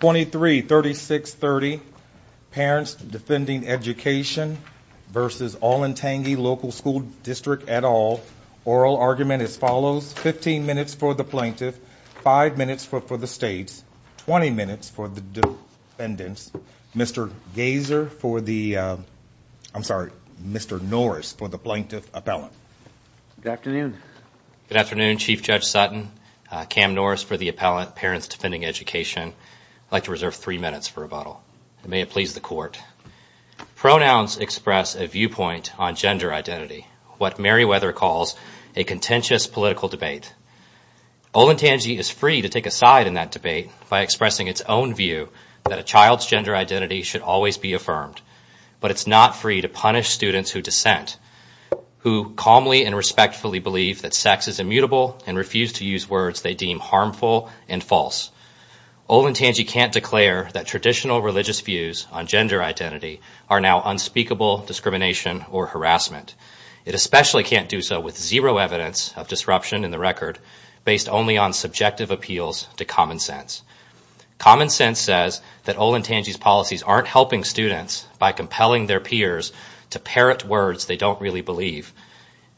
23-3630, Parents Defending Education v. Olentangy Local School District et al. Oral argument as follows, 15 minutes for the plaintiff, 5 minutes for the state, 20 minutes for the defendants. Mr. Gaser for the, I'm sorry, Mr. Norris for the plaintiff appellant. Good afternoon. Good afternoon, Chief Judge Sutton, Cam Norris for the appellant, Parents Defending Education. I'd like to reserve three minutes for rebuttal, and may it please the court. Pronouns express a viewpoint on gender identity, what Meriwether calls a contentious political debate. Olentangy is free to take a side in that debate by expressing its own view that a child's gender identity should always be affirmed, but it's not free to punish students who dissent, who calmly and respectfully believe that sex is immutable and refuse to use words they deem harmful and false. Olentangy can't declare that traditional religious views on gender identity are now unspeakable discrimination or harassment. It especially can't do so with zero evidence of disruption in the record based only on subjective appeals to common sense. Common sense says that Olentangy's policies aren't helping students by compelling their peers to parrot words they don't really believe.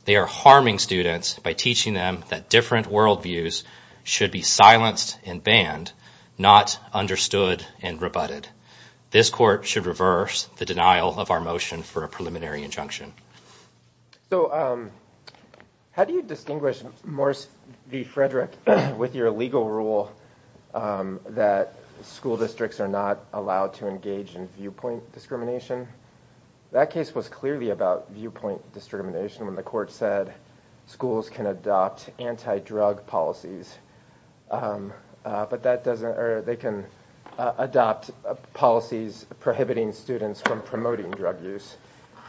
They are harming students by teaching them that different worldviews should be silenced and banned, not understood and rebutted. This court should reverse the denial of our motion for a preliminary injunction. So how do you distinguish Morris v. Frederick with your legal rule that school districts are not allowed to engage in viewpoint discrimination? That case was clearly about viewpoint discrimination and the court said schools can adopt anti-drug policies, but they can adopt policies prohibiting students from promoting drug use,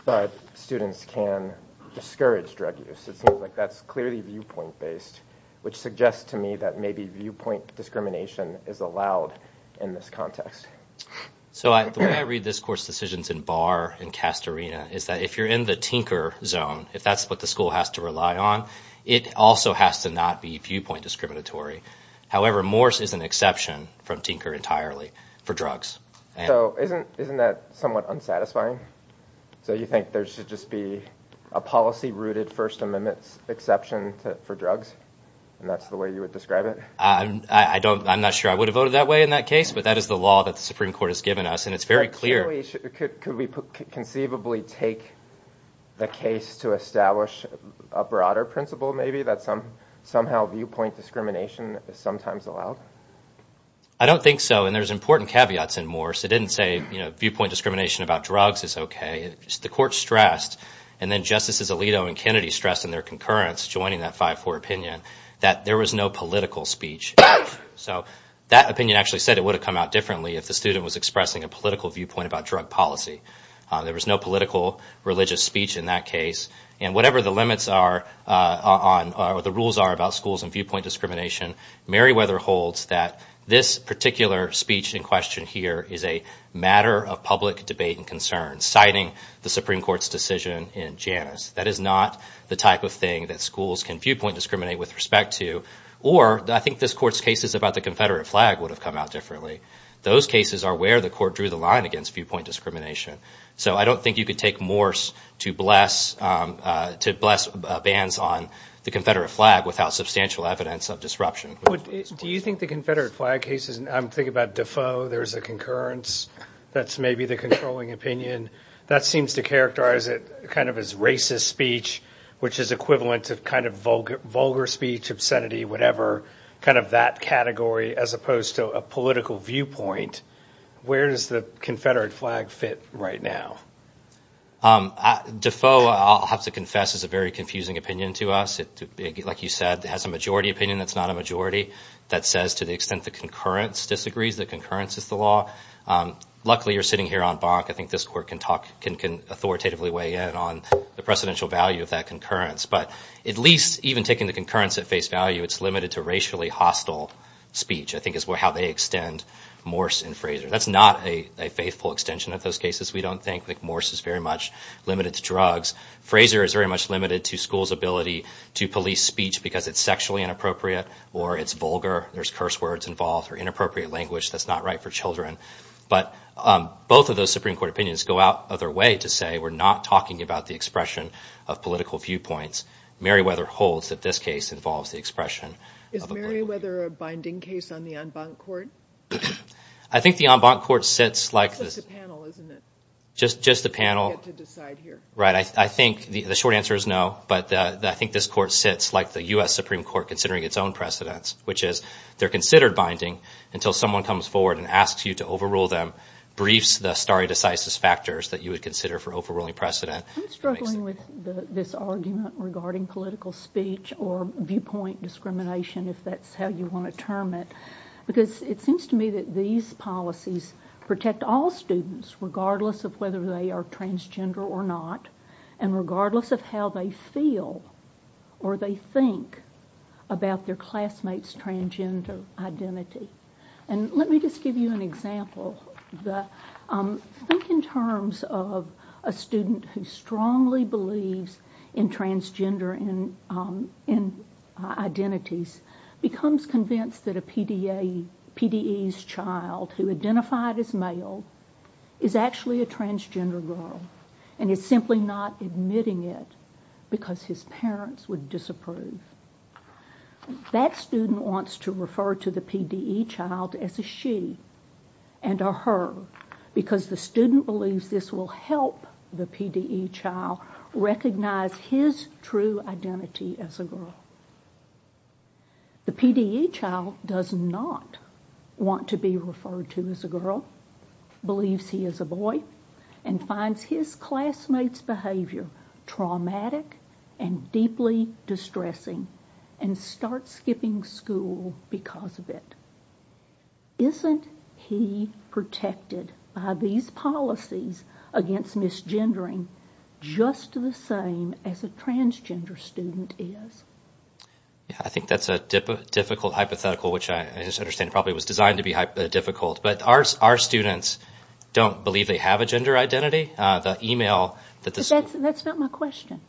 but students can discourage drug use. It seems like that's clearly viewpoint based, which suggests to me that maybe viewpoint discrimination is allowed in this context. So the way I read this court's decisions in Barr and Castorina is that if you're in the tinker zone, if that's what the school has to rely on, it also has to not be viewpoint discriminatory. However, Morris is an exception from tinker entirely for drugs. So isn't that somewhat unsatisfying? So you think there should just be a policy-rooted First Amendment exception for drugs, and that's the way you would describe it? I'm not sure I would have voted that way in that case, but that is the law that the Supreme Court has given us, and it's very clear. Could we conceivably take the case to establish a broader principle maybe that somehow viewpoint discrimination is sometimes allowed? I don't think so, and there's important caveats in Morris. It didn't say viewpoint discrimination about drugs is okay. The court stressed, and then Justices Alito and Kennedy stressed in their concurrence joining that 5-4 opinion, that there was no political speech. So that opinion actually said it would have come out differently if the student was expressing a political viewpoint about drug policy. There was no political religious speech in that case, and whatever the limits are or the rules are about schools and viewpoint discrimination, Meriwether holds that this particular speech in question here is a matter of public debate and concern, citing the Supreme Court's decision in Janus. That is not the type of thing that schools can viewpoint discriminate with respect to, or I think this Court's cases about the Confederate flag would have come out differently. Those cases are where the Court drew the line against viewpoint discrimination. So I don't think you could take Morris to bless bans on the Confederate flag without substantial evidence of disruption. Do you think the Confederate flag case is, I'm thinking about Defoe, there's a concurrence that's maybe the controlling opinion. That seems to characterize it kind of as racist speech, which is equivalent to kind of vulgar speech, obscenity, whatever, kind of that category as opposed to a political viewpoint. Where does the Confederate flag fit right now? Defoe, I'll have to confess, is a very confusing opinion to us. Like you said, it has a majority opinion that's not a majority that says to the extent the concurrence disagrees, the concurrence is the law. Luckily, you're sitting here on Bach. I think this Court can authoritatively weigh in on the precedential value of that concurrence. But at least even taking the concurrence at face value, it's limited to racially hostile speech, I think is how they extend Morris and Fraser. That's not a faithful extension of those cases. We don't think that Morris is very much limited to drugs. Fraser is very much limited to schools' ability to police speech because it's sexually inappropriate or it's vulgar. There's curse words involved or inappropriate language that's not right for children. But both of those Supreme Court opinions go out of their way to say we're not talking about the expression of political viewpoints. Merriweather holds that this case involves the expression. Is Merriweather a binding case on the en banc court? I think the en banc court sits like this. It's just a panel, isn't it? Just the panel. You get to decide here. Right. I think the short answer is no, but I think this court sits like the U.S. Supreme Court considering its own precedents, which is they're considered binding until someone comes forward and asks you to overrule them, breach the stare decisis factors that you would consider for overruling precedent. I'm struggling with this argument regarding political speech or viewpoint discrimination, if that's how you want to term it, because it seems to me that these policies protect all students, regardless of whether they are transgender or not, and regardless of how they feel or they think about their classmate's transgender identity. And let me just give you an example. Think in terms of a student who strongly believes in transgender identities, becomes convinced that a PDE's child who identified as male is actually a transgender girl, and is simply not admitting it because his parents would disapprove. That student wants to refer to the PDE child as a she and a her, because the student believes this will help the PDE child recognize his true identity as a girl. The PDE child does not want to be referred to as a girl, believes he is a boy, and finds his classmate's behavior traumatic and deeply distressing, and starts skipping school because of it. Isn't he protected by these policies against misgendering just the same as a transgender student is? I think that's a difficult hypothetical, which I understand probably was designed to be difficult, but our students don't believe they have a gender identity. But that's not my question.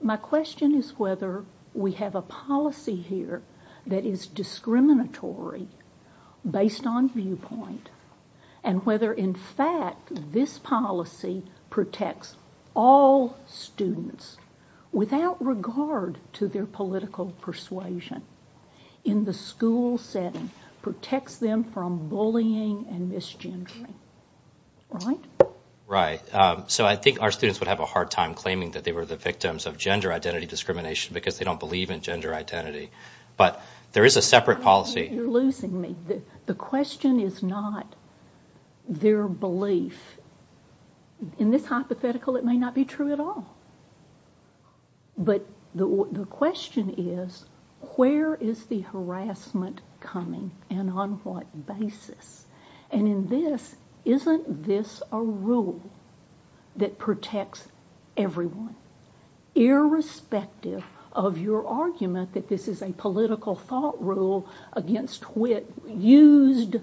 My question is whether we have a policy here that is discriminatory based on viewpoint, and whether in fact this policy protects all students without regard to their political persuasion, in the school setting, protects them from bullying and misgendering. Right? Right. So I think our students would have a hard time claiming that they were the victims of gender identity discrimination because they don't believe in gender identity. But there is a separate policy. You're losing me. The question is not their belief. In this hypothetical, it may not be true at all. But the question is, where is the harassment coming and on what basis? And in this, isn't this a rule that protects everyone? Irrespective of your argument that this is a political thought rule against wit used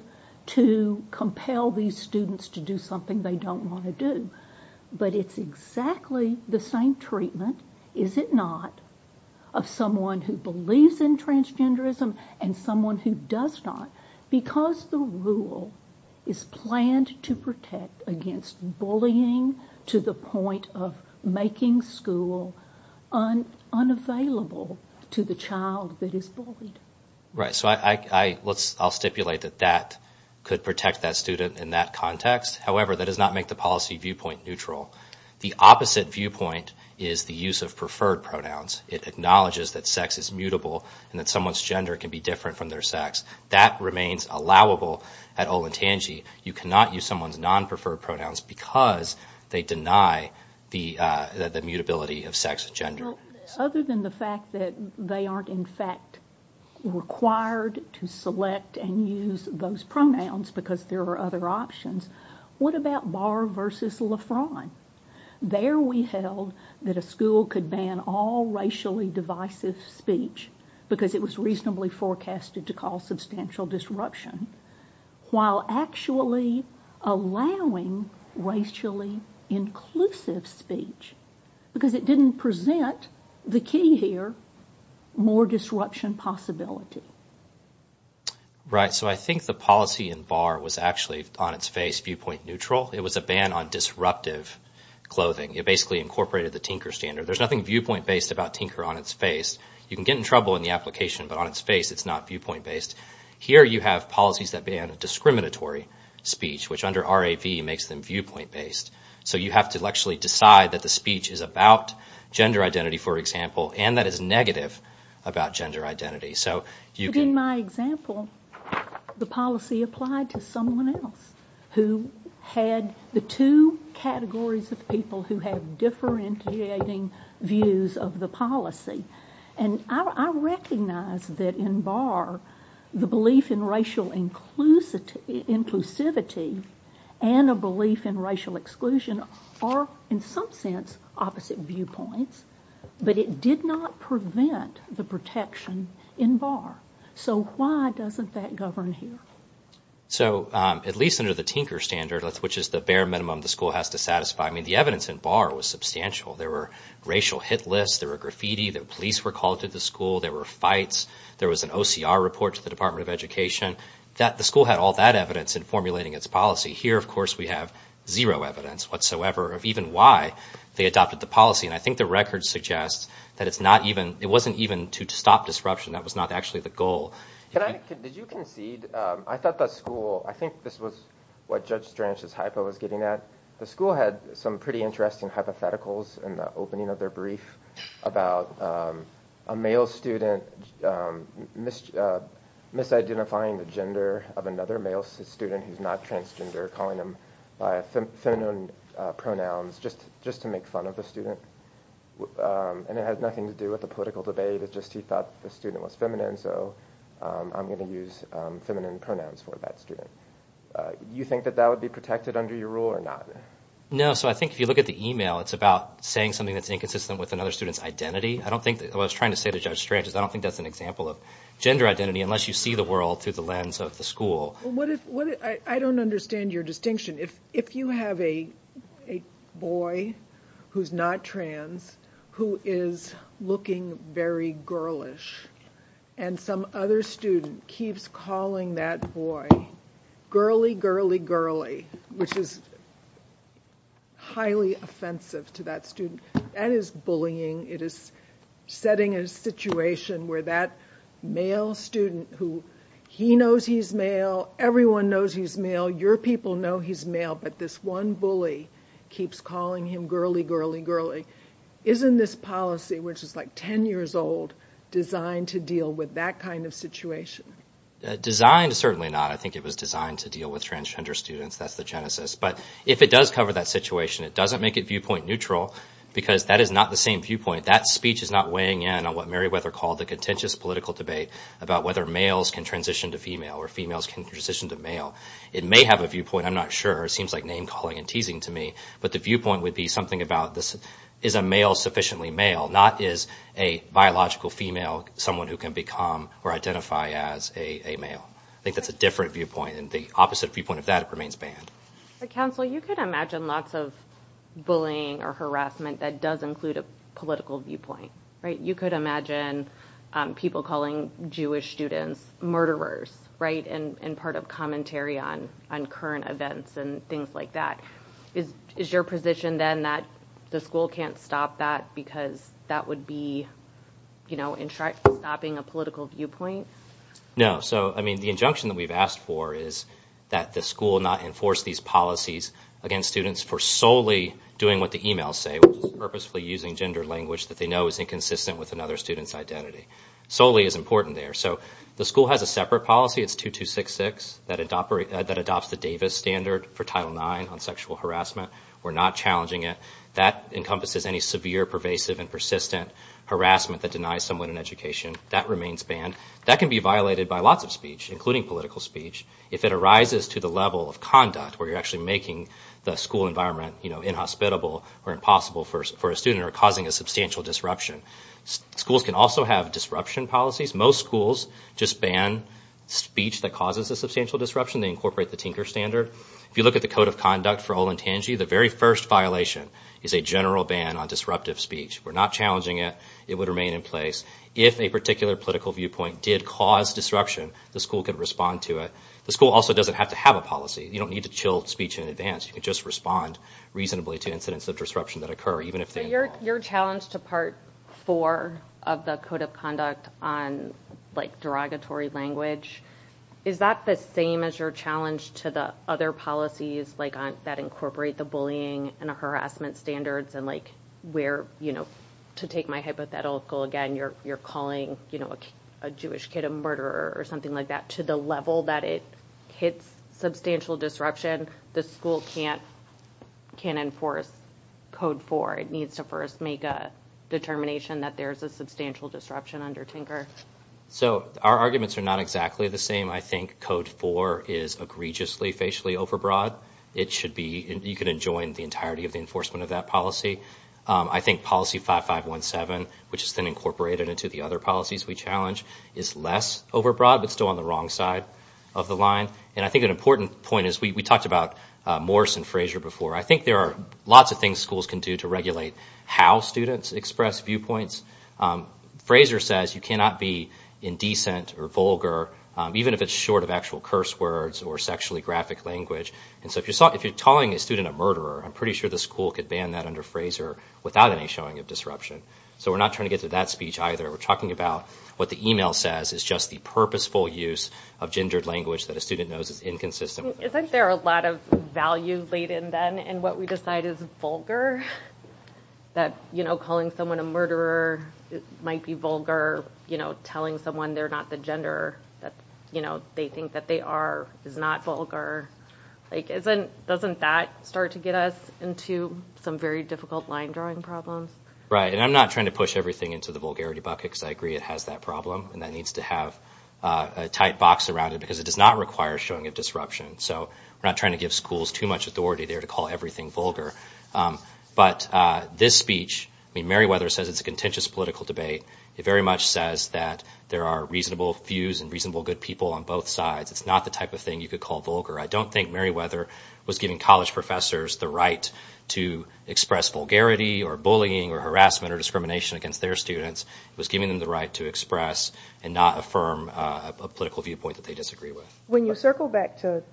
to compel these students to do something they don't want to do. But it's exactly the same treatment, is it not, of someone who believes in transgenderism and someone who does not. Because the rule is planned to protect against bullying to the point of making school unavailable to the child that is bullied. Right. So I'll stipulate that that could protect that student in that context. However, that does not make the policy viewpoint neutral. The opposite viewpoint is the use of preferred pronouns. It acknowledges that sex is mutable and that someone's gender can be different from their sex. That remains allowable at Olentangy. You cannot use someone's non-preferred pronouns because they deny the mutability of sex and gender. Other than the fact that they aren't in fact required to select and use those pronouns because there are other options, what about Barr versus LeFron? There we held that a school could ban all racially divisive speech because it was reasonably forecasted to cause substantial disruption while actually allowing racially inclusive speech because it didn't present the key here, more disruption possibility. Right. So I think the policy in Barr was actually on its face viewpoint neutral. It was a ban on disruptive clothing. It basically incorporated the Tinker standard. There's nothing viewpoint based about Tinker on its face. You can get in trouble in the application, but on its face it's not viewpoint based. Here you have policies that ban discriminatory speech, which under RAP makes them viewpoint based. So you have to actually decide that the speech is about gender identity, for example, and that it's negative about gender identity. In my example, the policy applied to someone else who had the two categories of people who had differentiating views of the policy, and I recognize that in Barr the belief in racial inclusivity and a belief in racial exclusion are in some sense opposite viewpoints, but it did not prevent the protection in Barr. So why doesn't that govern here? So at least under the Tinker standard, which is the bare minimum the school has to satisfy, I mean the evidence in Barr was substantial. There were racial hit lists. There were graffiti. The police were called to the school. There were fights. There was an OCR report to the Department of Education. The school had all that evidence in formulating its policy. Here, of course, we have zero evidence whatsoever of even why they adopted the policy, and I think the record suggests that it wasn't even to stop disruption. That was not actually the goal. As you concede, I thought that school – I think this was what Judge Stranch's hypo was getting at. The school had some pretty interesting hypotheticals in the opening of their brief about a male student misidentifying the gender of another male student who's not transgender, calling them by feminine pronouns just to make fun of the student, and it has nothing to do with the political debate. It's just he thought the student was feminine, so I'm going to use feminine pronouns for that student. Do you think that that would be protected under your rule or not? No, so I think if you look at the email, it's about saying something that's inconsistent with another student's identity. I don't think – well, I was trying to say to Judge Stranch that I don't think that's an example of gender identity unless you see the world through the lens of the school. I don't understand your distinction. If you have a boy who's not trans who is looking very girlish and some other student keeps calling that boy girly, girly, girly, which is highly offensive to that student, that is bullying. It is setting a situation where that male student who he knows he's male, everyone knows he's male, your people know he's male, but this one bully keeps calling him girly, girly, girly. Isn't this policy, which is like 10 years old, designed to deal with that kind of situation? Designed? Certainly not. I think it was designed to deal with transgender students. That's the genesis. But if it does cover that situation, it doesn't make it viewpoint neutral because that is not the same viewpoint. That speech is not weighing in on what Meriwether called the contentious political debate about whether males can transition to female or females can transition to male. It may have a viewpoint. I'm not sure. It seems like name-calling and teasing to me. But the viewpoint would be something about is a male sufficiently male, not is a biological female someone who can become or identify as a male. I think that's a different viewpoint. The opposite viewpoint of that remains banned. But, Counselor, you could imagine lots of bullying or harassment that does include a political viewpoint, right? You could imagine people calling Jewish students murderers, right, and part of commentary on current events and things like that. Is your position then that the school can't stop that because that would be, you know, stopping a political viewpoint? No. So, I mean, the injunction that we've asked for is that the school not enforce these policies against students for solely doing what the emails say, purposely using gender language that they know is inconsistent with another student's identity. Solely is important there. So the school has a separate policy, it's 2266, that adopts the Davis Standard for Title IX on sexual harassment. We're not challenging it. That encompasses any severe, pervasive, and persistent harassment that denies someone an education. That remains banned. That can be violated by lots of speech, including political speech. If it arises to the level of conduct where you're actually making the school environment, you know, inhospitable or impossible for a student or causing a substantial disruption. Schools can also have disruption policies. Most schools just ban speech that causes a substantial disruption. They incorporate the Tinker Standard. If you look at the Code of Conduct for Olentangy, the very first violation is a general ban on disruptive speech. We're not challenging it. It would remain in place. If a particular political viewpoint did cause disruption, the school could respond to it. The school also doesn't have to have a policy. You don't need to chill speech in advance. You can just respond reasonably to incidents of disruption that occur. Your challenge to Part 4 of the Code of Conduct on, like, derogatory language, is that the same as your challenge to the other policies, like, that incorporate the bullying and harassment standards and, like, where, you know, to take my hypothetical, again, you're calling, you know, a Jewish kid a murderer or something like that to the level that it hits substantial disruption. The school can't enforce Code 4. It needs to first make a determination that there's a substantial disruption under Tinker. So our arguments are not exactly the same. I think Code 4 is egregiously, facially overbroad. It should be, you could enjoin the entirety of the enforcement of that policy. I think Policy 5517, which has been incorporated into the other policies we challenge, is less overbroad but still on the wrong side of the line. And I think an important point is we talked about Morris and Fraser before. I think there are lots of things schools can do to regulate how students express viewpoints. Fraser says you cannot be indecent or vulgar, even if it's short of actual curse words or sexually graphic language. And so if you're calling a student a murderer, I'm pretty sure the school could ban that under Fraser without any showing of disruption. So we're not trying to get to that speech either. We're talking about what the email says is just the purposeful use of gendered language that a student knows is inconsistent. Isn't there a lot of value laid in then in what we decide is vulgar? That, you know, calling someone a murderer might be vulgar. You know, telling someone they're not the gender that, you know, they think that they are is not vulgar. Like, doesn't that start to get us into some very difficult line drawing problems? Right, and I'm not trying to push everything into the vulgarity bucket because I agree it has that problem. And that needs to have a tight box around it because it does not require showing of disruption. So we're not trying to give schools too much authority there to call everything vulgar. But this speech, I mean, Merriweather says it's a contentious political debate. It very much says that there are reasonable views and reasonable good people on both sides. It's not the type of thing you could call vulgar. I don't think Merriweather was giving college professors the right to express vulgarity or bullying or harassment or discrimination against their students. It was giving them the right to express and not affirm a political viewpoint that they disagree with. When you circle back to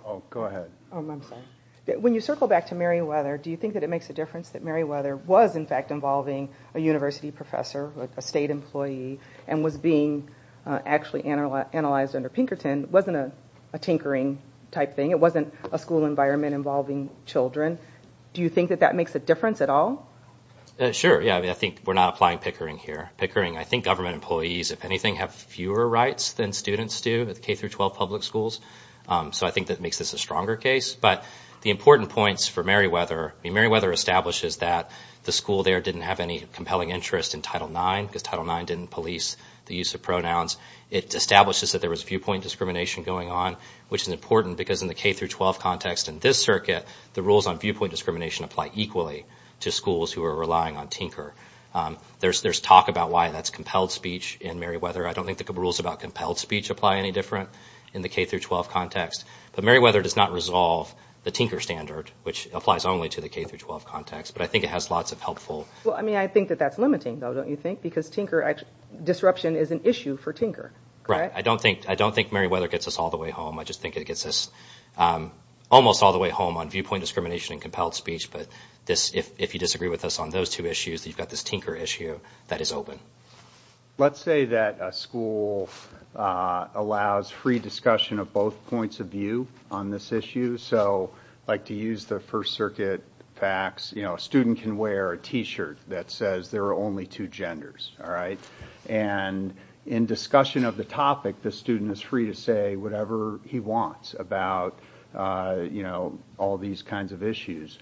Merriweather, do you think that it makes a difference that Merriweather was, in fact, involving a university professor, a state employee, and was being actually analyzed under Pinkerton? It wasn't a tinkering type thing. It wasn't a school environment involving children. Do you think that that makes a difference at all? Sure, yeah. I mean, I think we're not applying pickering here. Pickering, I think government employees, if anything, have fewer rights than students do at K-12 public schools. So I think that makes this a stronger case. But the important points for Merriweather, I mean, Merriweather establishes that the school there didn't have any compelling interest in Title IX because Title IX didn't police the use of pronouns. It establishes that there was viewpoint discrimination going on, which is important because in the K-12 context in this circuit, the rules on viewpoint discrimination apply equally to schools who are relying on tinker. There's talk about why that's compelled speech in Merriweather. I don't think the rules about compelled speech apply any different in the K-12 context. But Merriweather does not resolve the tinker standard, which applies only to the K-12 context. But I think it has lots of helpful— Well, I mean, I think that that's limiting, though, don't you think? Because tinker—disruption is an issue for tinker. Right. I don't think Merriweather gets us all the way home. I just think it gets us almost all the way home on viewpoint discrimination and compelled speech. But if you disagree with us on those two issues, you've got this tinker issue that is open. Let's say that a school allows free discussion of both points of view on this issue. So I like to use the First Circuit facts. You know, a student can wear a T-shirt that says there are only two genders, all right? And in discussion of the topic, the student is free to say whatever he wants about, you know, all these kinds of issues.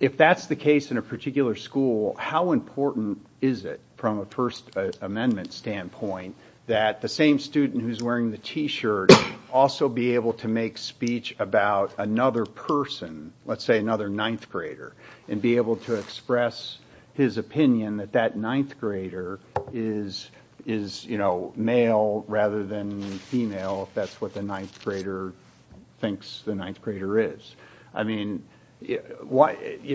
If that's the case in a particular school, how important is it from a First Amendment standpoint that the same student who's wearing the T-shirt also be able to make speech about another person, let's say another ninth grader, and be able to express his opinion that that ninth grader is, you know, male rather than female, if that's what the ninth grader thinks the ninth grader is? I mean, you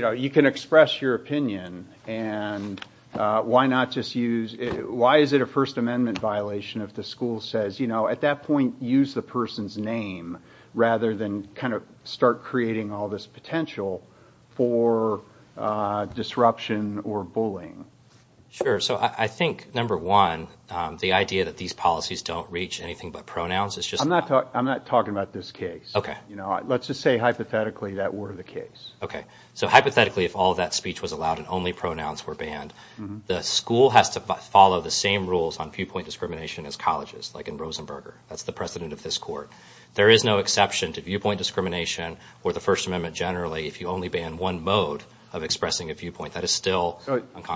know, you can express your opinion, and why not just use— why is it a First Amendment violation if the school says, you know, at that point use the person's name rather than kind of start creating all this potential for disruption or bullying? Sure. So I think, number one, the idea that these policies don't reach anything but pronouns is just— I'm not talking about this case. Okay. You know, let's just say hypothetically that were the case. Okay. So hypothetically, if all that speech was allowed and only pronouns were banned, the school has to follow the same rules on viewpoint discrimination as colleges, like in Rosenberger. That's the precedent of this court. There is no exception to viewpoint discrimination or the First Amendment generally if you only ban one mode of expressing a viewpoint. That is still—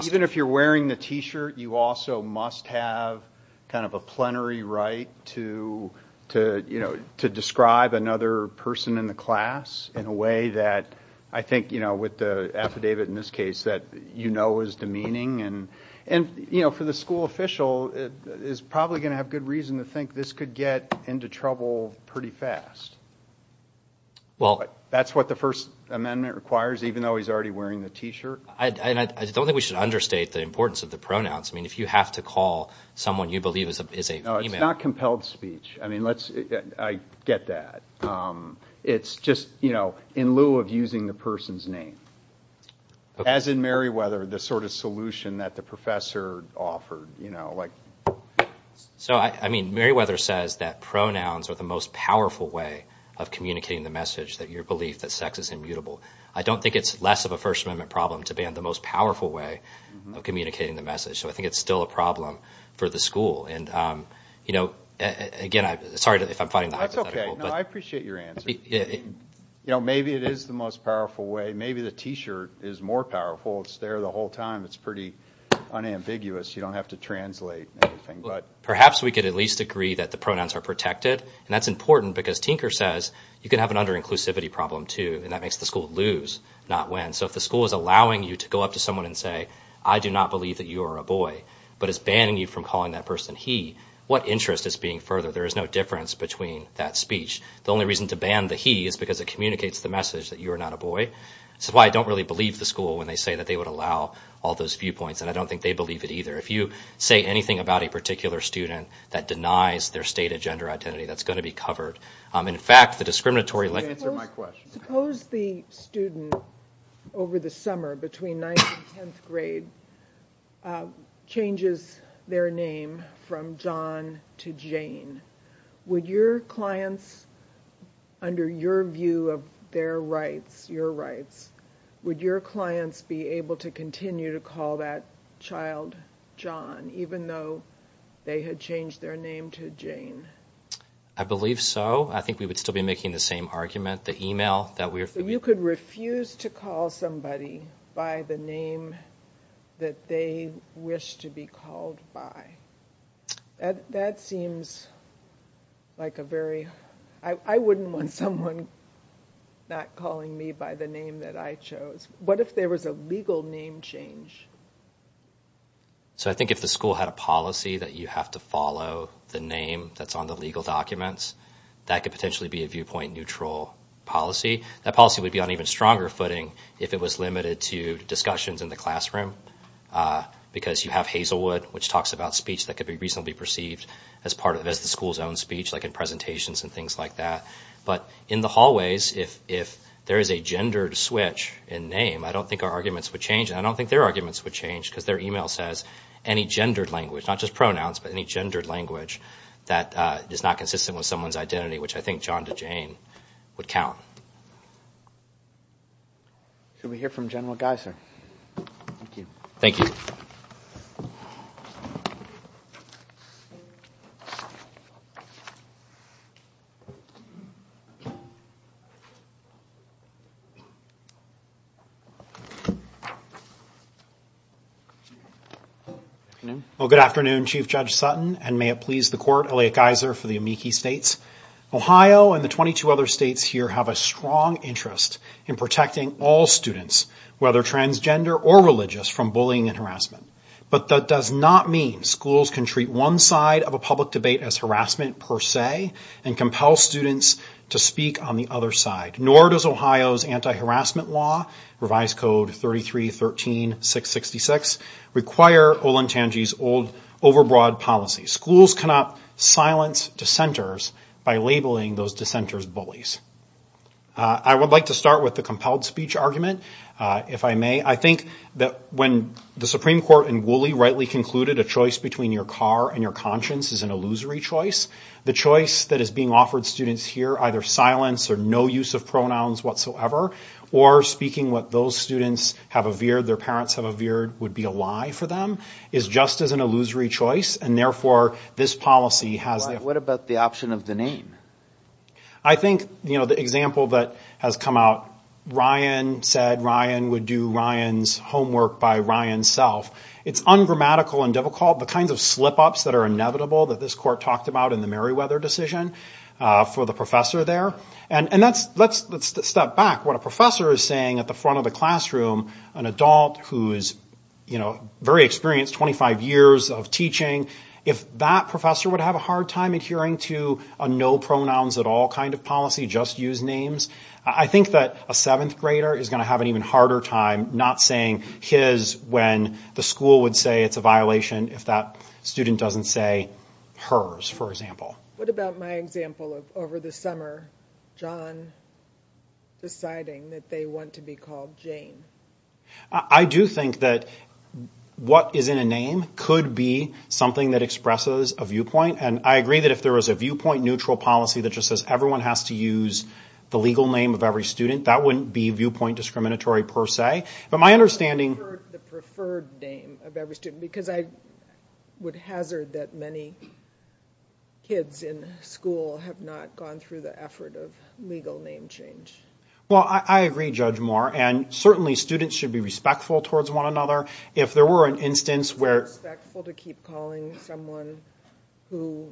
Even if you're wearing the T-shirt, you also must have kind of a plenary right to, you know, to describe another person in the class in a way that I think, you know, with the affidavit in this case that you know is demeaning. And, you know, for the school official, it's probably going to have good reason to think this could get into trouble pretty fast. Well— That's what the First Amendment requires even though he's already wearing the T-shirt. I don't think we should understate the importance of the pronouns. I mean, if you have to call someone you believe is a female— No, it's not compelled speech. I mean, let's—I get that. It's just, you know, in lieu of using the person's name. Okay. As in Merriweather, the sort of solution that the professor offered, you know, like— So, I mean, Merriweather says that pronouns are the most powerful way of communicating the message that your belief that sex is immutable. I don't think it's less of a First Amendment problem to ban the most powerful way of communicating the message. So I think it's still a problem for the school. And, you know, again, sorry if I'm fighting the hypothetical. No, I appreciate your answer. You know, maybe it is the most powerful way. I mean, maybe the T-shirt is more powerful. It's there the whole time. It's pretty unambiguous. You don't have to translate anything, but— Perhaps we could at least agree that the pronouns are protected, and that's important because Tinker says you can have an under-inclusivity problem, too, and that makes the school lose, not win. So if the school is allowing you to go up to someone and say, I do not believe that you are a boy, but is banning you from calling that person he, what interest is being furthered? There is no difference between that speech. The only reason to ban the he is because it communicates the message that you are not a boy. This is why I don't really believe the school when they say that they would allow all those viewpoints, and I don't think they believe it either. If you say anything about a particular student that denies their state of gender identity, that's going to be covered. In fact, the discriminatory— Answer my question. Suppose the student over the summer, between ninth and tenth grade, changes their name from John to Jane. Would your clients, under your view of their rights, your rights, would your clients be able to continue to call that child John, even though they had changed their name to Jane? I believe so. I think we would still be making the same argument. The email that we— You could refuse to call somebody by the name that they wish to be called by. That seems like a very— I wouldn't want someone not calling me by the name that I chose. What if there was a legal name change? I think if the school had a policy that you have to follow the name that's on the legal documents, that could potentially be a viewpoint-neutral policy. That policy would be on an even stronger footing if it was limited to discussions in the classroom, because you have Hazelwood, which talks about speech that could be reasonably perceived as part of the school's own speech, like in presentations and things like that. But in the hallways, if there is a gendered switch in name, I don't think our arguments would change, and I don't think their arguments would change, because their email says any gendered language, not just pronouns, but any gendered language that is not consistent with someone's identity, which I think John to Jane would count. Can we hear from General Geiser? Thank you. Thank you. Good afternoon. Well, good afternoon, Chief Judge Sutton, and may it please the court, Elliot Geiser for the Amici States. Ohio and the 22 other states here have a strong interest in protecting all students, whether transgender or religious, from bullying and harassment. But that does not mean schools can treat one side of a public debate as harassment per se and compel students to speak on the other side. Nor does Ohio's anti-harassment law, Revised Code 33.13.666, require Olentangy's old, overbroad policy. Schools cannot silence dissenters by labeling those dissenters bullies. I would like to start with the compelled speech argument, if I may. I think that when the Supreme Court in Woolley rightly concluded a choice between your car and your conscience is an illusory choice, the choice that is being offered students here, either silence or no use of pronouns whatsoever, or speaking what those students have averred, their parents have averred, would be a lie for them, is just as an illusory choice, and therefore this policy has... What about the option of the name? I think the example that has come out, Ryan said Ryan would do Ryan's homework by Ryan's self. It's ungrammatical and difficult, the kind of slip-ups that are inevitable that this court talked about in the Meriwether decision for the professor there. And let's step back. What a professor is saying at the front of the classroom, an adult who is very experienced, 25 years of teaching, if that professor would have a hard time adhering to a no pronouns at all kind of policy, just use names, I think that a seventh grader is going to have an even harder time not saying his when the school would say it's a violation if that student doesn't say hers, for example. What about my example of over the summer, John deciding that they want to be called Jane? I do think that what is in a name could be something that expresses a viewpoint, and I agree that if there was a viewpoint neutral policy that just says everyone has to use the legal name of every student, that wouldn't be viewpoint discriminatory per se, but my understanding... Preferred name of every student, because I would hazard that many kids in the school have not gone through the effort of legal name change. Well, I agree, Judge Moore, and certainly students should be respectful towards one another. If there were an instance where... Respectful to keep calling someone who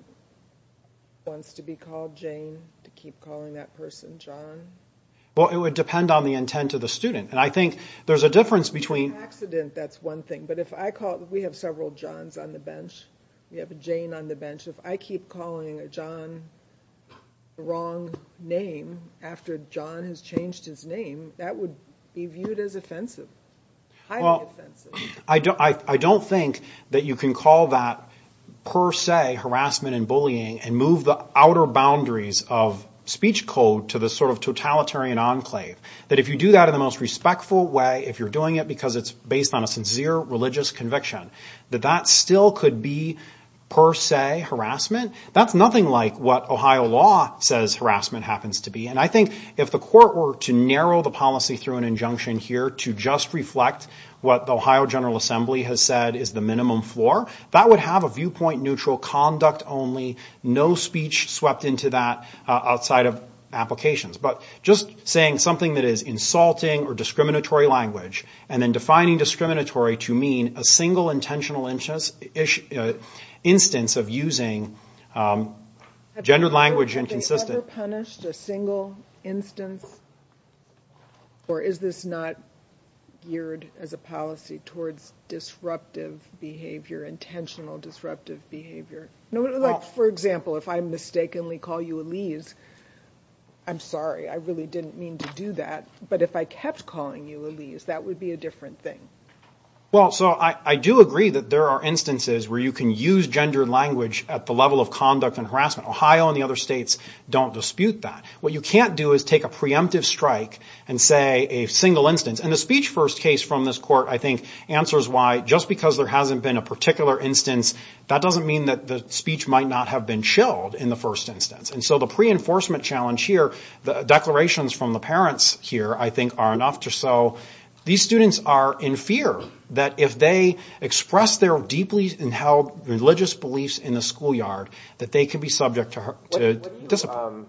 wants to be called Jane, to keep calling that person John. Well, it would depend on the intent of the student, and I think there's a difference between... Accident, that's one thing, but if I call... We have several Johns on the bench. We have a Jane on the bench. If I keep calling a John the wrong name after John has changed his name, that would be viewed as offensive, highly offensive. Well, I don't think that you can call that per se harassment and bullying and move the outer boundaries of speech code to the sort of totalitarian enclave. But if you do that in the most respectful way, if you're doing it because it's based on a sincere religious conviction, that that still could be per se harassment, that's nothing like what Ohio law says harassment happens to be. And I think if the court were to narrow the policy through an injunction here to just reflect what the Ohio General Assembly has said is the minimum floor, that would have a viewpoint-neutral, conduct-only, no speech swept into that outside of applications. But just saying something that is insulting or discriminatory language and then defining discriminatory to mean a single intentional instance of using gendered language inconsistent. Have they ever punished a single instance? Or is this not geared as a policy towards disruptive behavior, intentional disruptive behavior? For example, if I mistakenly call you Elise, I'm sorry. I really didn't mean to do that. But if I kept calling you Elise, that would be a different thing. Well, so I do agree that there are instances where you can use gendered language at the level of conduct and harassment. Ohio and the other states don't dispute that. What you can't do is take a preemptive strike and say a single instance. And the speech first case from this court, I think, answers why. Just because there hasn't been a particular instance, that doesn't mean that the speech might not have been chilled in the first instance. And so the pre-enforcement challenge here, the declarations from the parents here, I think, are enough to show these students are in fear that if they express their deeply inheld religious beliefs in the schoolyard, that they could be subject to discipline.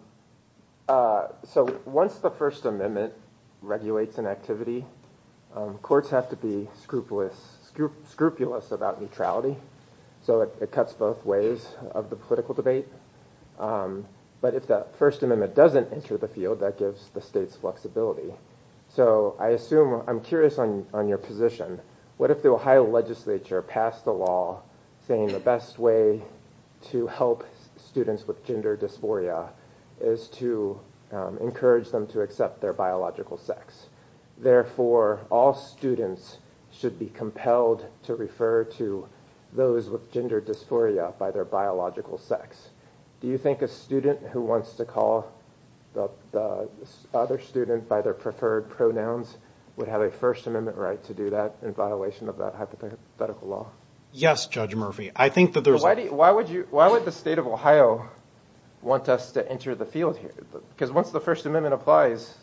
So once the First Amendment regulates an activity, courts have to be scrupulous about neutrality. So it cuts both ways of the political debate. But if the First Amendment doesn't enter the field, that gives the states flexibility. So I assume, I'm curious on your position, what if the Ohio legislature passed a law saying the best way to help students with gender dysphoria is to encourage them to accept their biological sex. Therefore, all students should be compelled to refer to those with gender dysphoria by their biological sex. Do you think a student who wants to call other students by their preferred pronouns would have a First Amendment right to do that in violation of that hypothetical law? Yes, Judge Murphy. I think that there's... Why would the state of Ohio want us to enter the field here? Because once the First Amendment applies,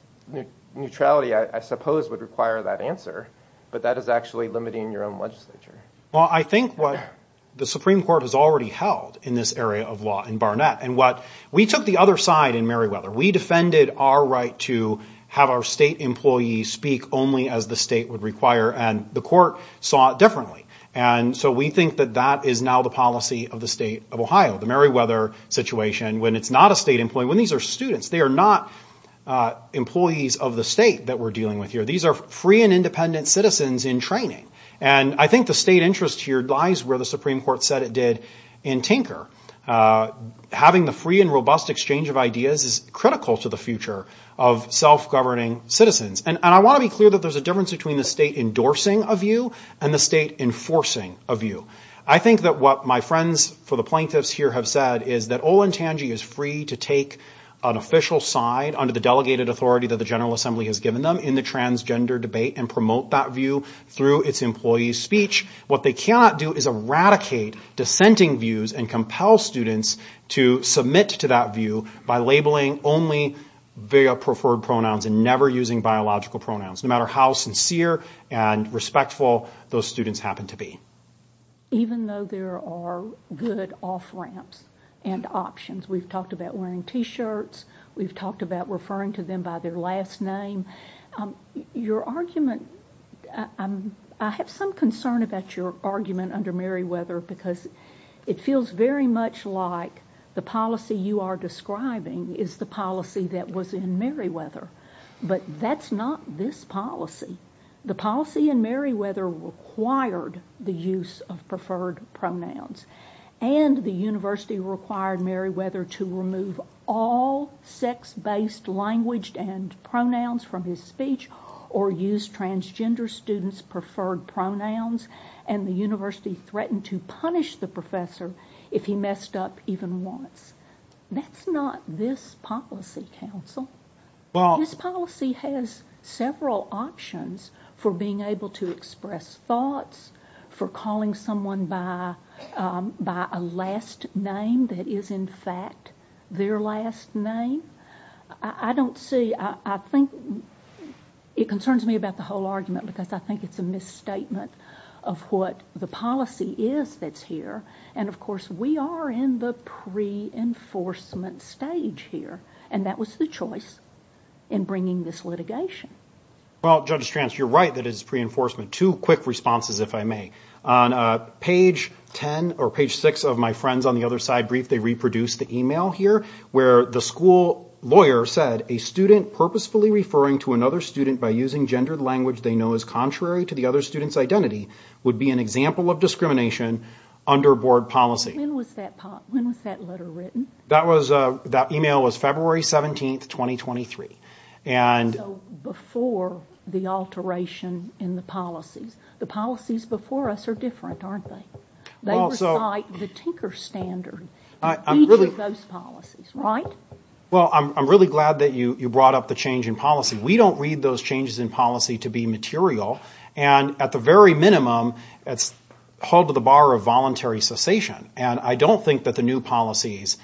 neutrality, I suppose, would require that answer. But that is actually limiting your own legislature. Well, I think what the Supreme Court has already held in this area of law in Barnett and what we took the other side in Merriweather. We defended our right to have our state employees speak only as the state would require and the court saw it differently. And so we think that that is now the policy of the state of Ohio, the Merriweather situation. And when it's not a state employee, when these are students, they are not employees of the state that we're dealing with here. These are free and independent citizens in training. And I think the state interest here lies where the Supreme Court said it did in Tinker. Having the free and robust exchange of ideas is critical to the future of self-governing citizens. And I want to be clear that there's a difference between the state endorsing a view and the state enforcing a view. I think that what my friends for the plaintiffs here have said is that Olanchanji is free to take an official side under the delegated authority that the General Assembly has given them in the transgender debate and promote that view through its employee speech. What they cannot do is eradicate dissenting views and compel students to submit to that view by labeling only their preferred pronouns and never using biological pronouns, no matter how sincere and respectful those students happen to be. Even though there are good off-ramps and options. We've talked about wearing T-shirts. We've talked about referring to them by their last name. Your argument, I have some concern about your argument under Merriweather because it feels very much like the policy you are describing is the policy that was in Merriweather. But that's not this policy. The policy in Merriweather required the use of preferred pronouns. And the university required Merriweather to remove all sex-based language and pronouns from his speech or use transgender students' preferred pronouns. And the university threatened to punish the professor if he messed up even once. That's not this policy, counsel. This policy has several options for being able to express thoughts, for calling someone by a last name that is, in fact, their last name. I don't see, I think it concerns me about the whole argument because I think it's a misstatement of what the policy is that's here. And, of course, we are in the pre-enforcement stage here. And that was the choice in bringing this litigation. Well, Judge Strantz, you're right that it's pre-enforcement. Two quick responses, if I may. On page 10 or page 6 of my friends on the other side brief, they reproduced the email here where the school lawyer said, a student purposefully referring to another student by using gendered language they know is contrary to the other student's identity would be an example of discrimination under board policy. When was that letter written? That email was February 17, 2023. Before the alteration in the policy. The policies before us are different, aren't they? They recite the Tinker standard, even those policies, right? Well, I'm really glad that you brought up the change in policy. We don't read those changes in policy to be material. And, at the very minimum, it's held to the bar of voluntary cessation. And I don't think that the new policies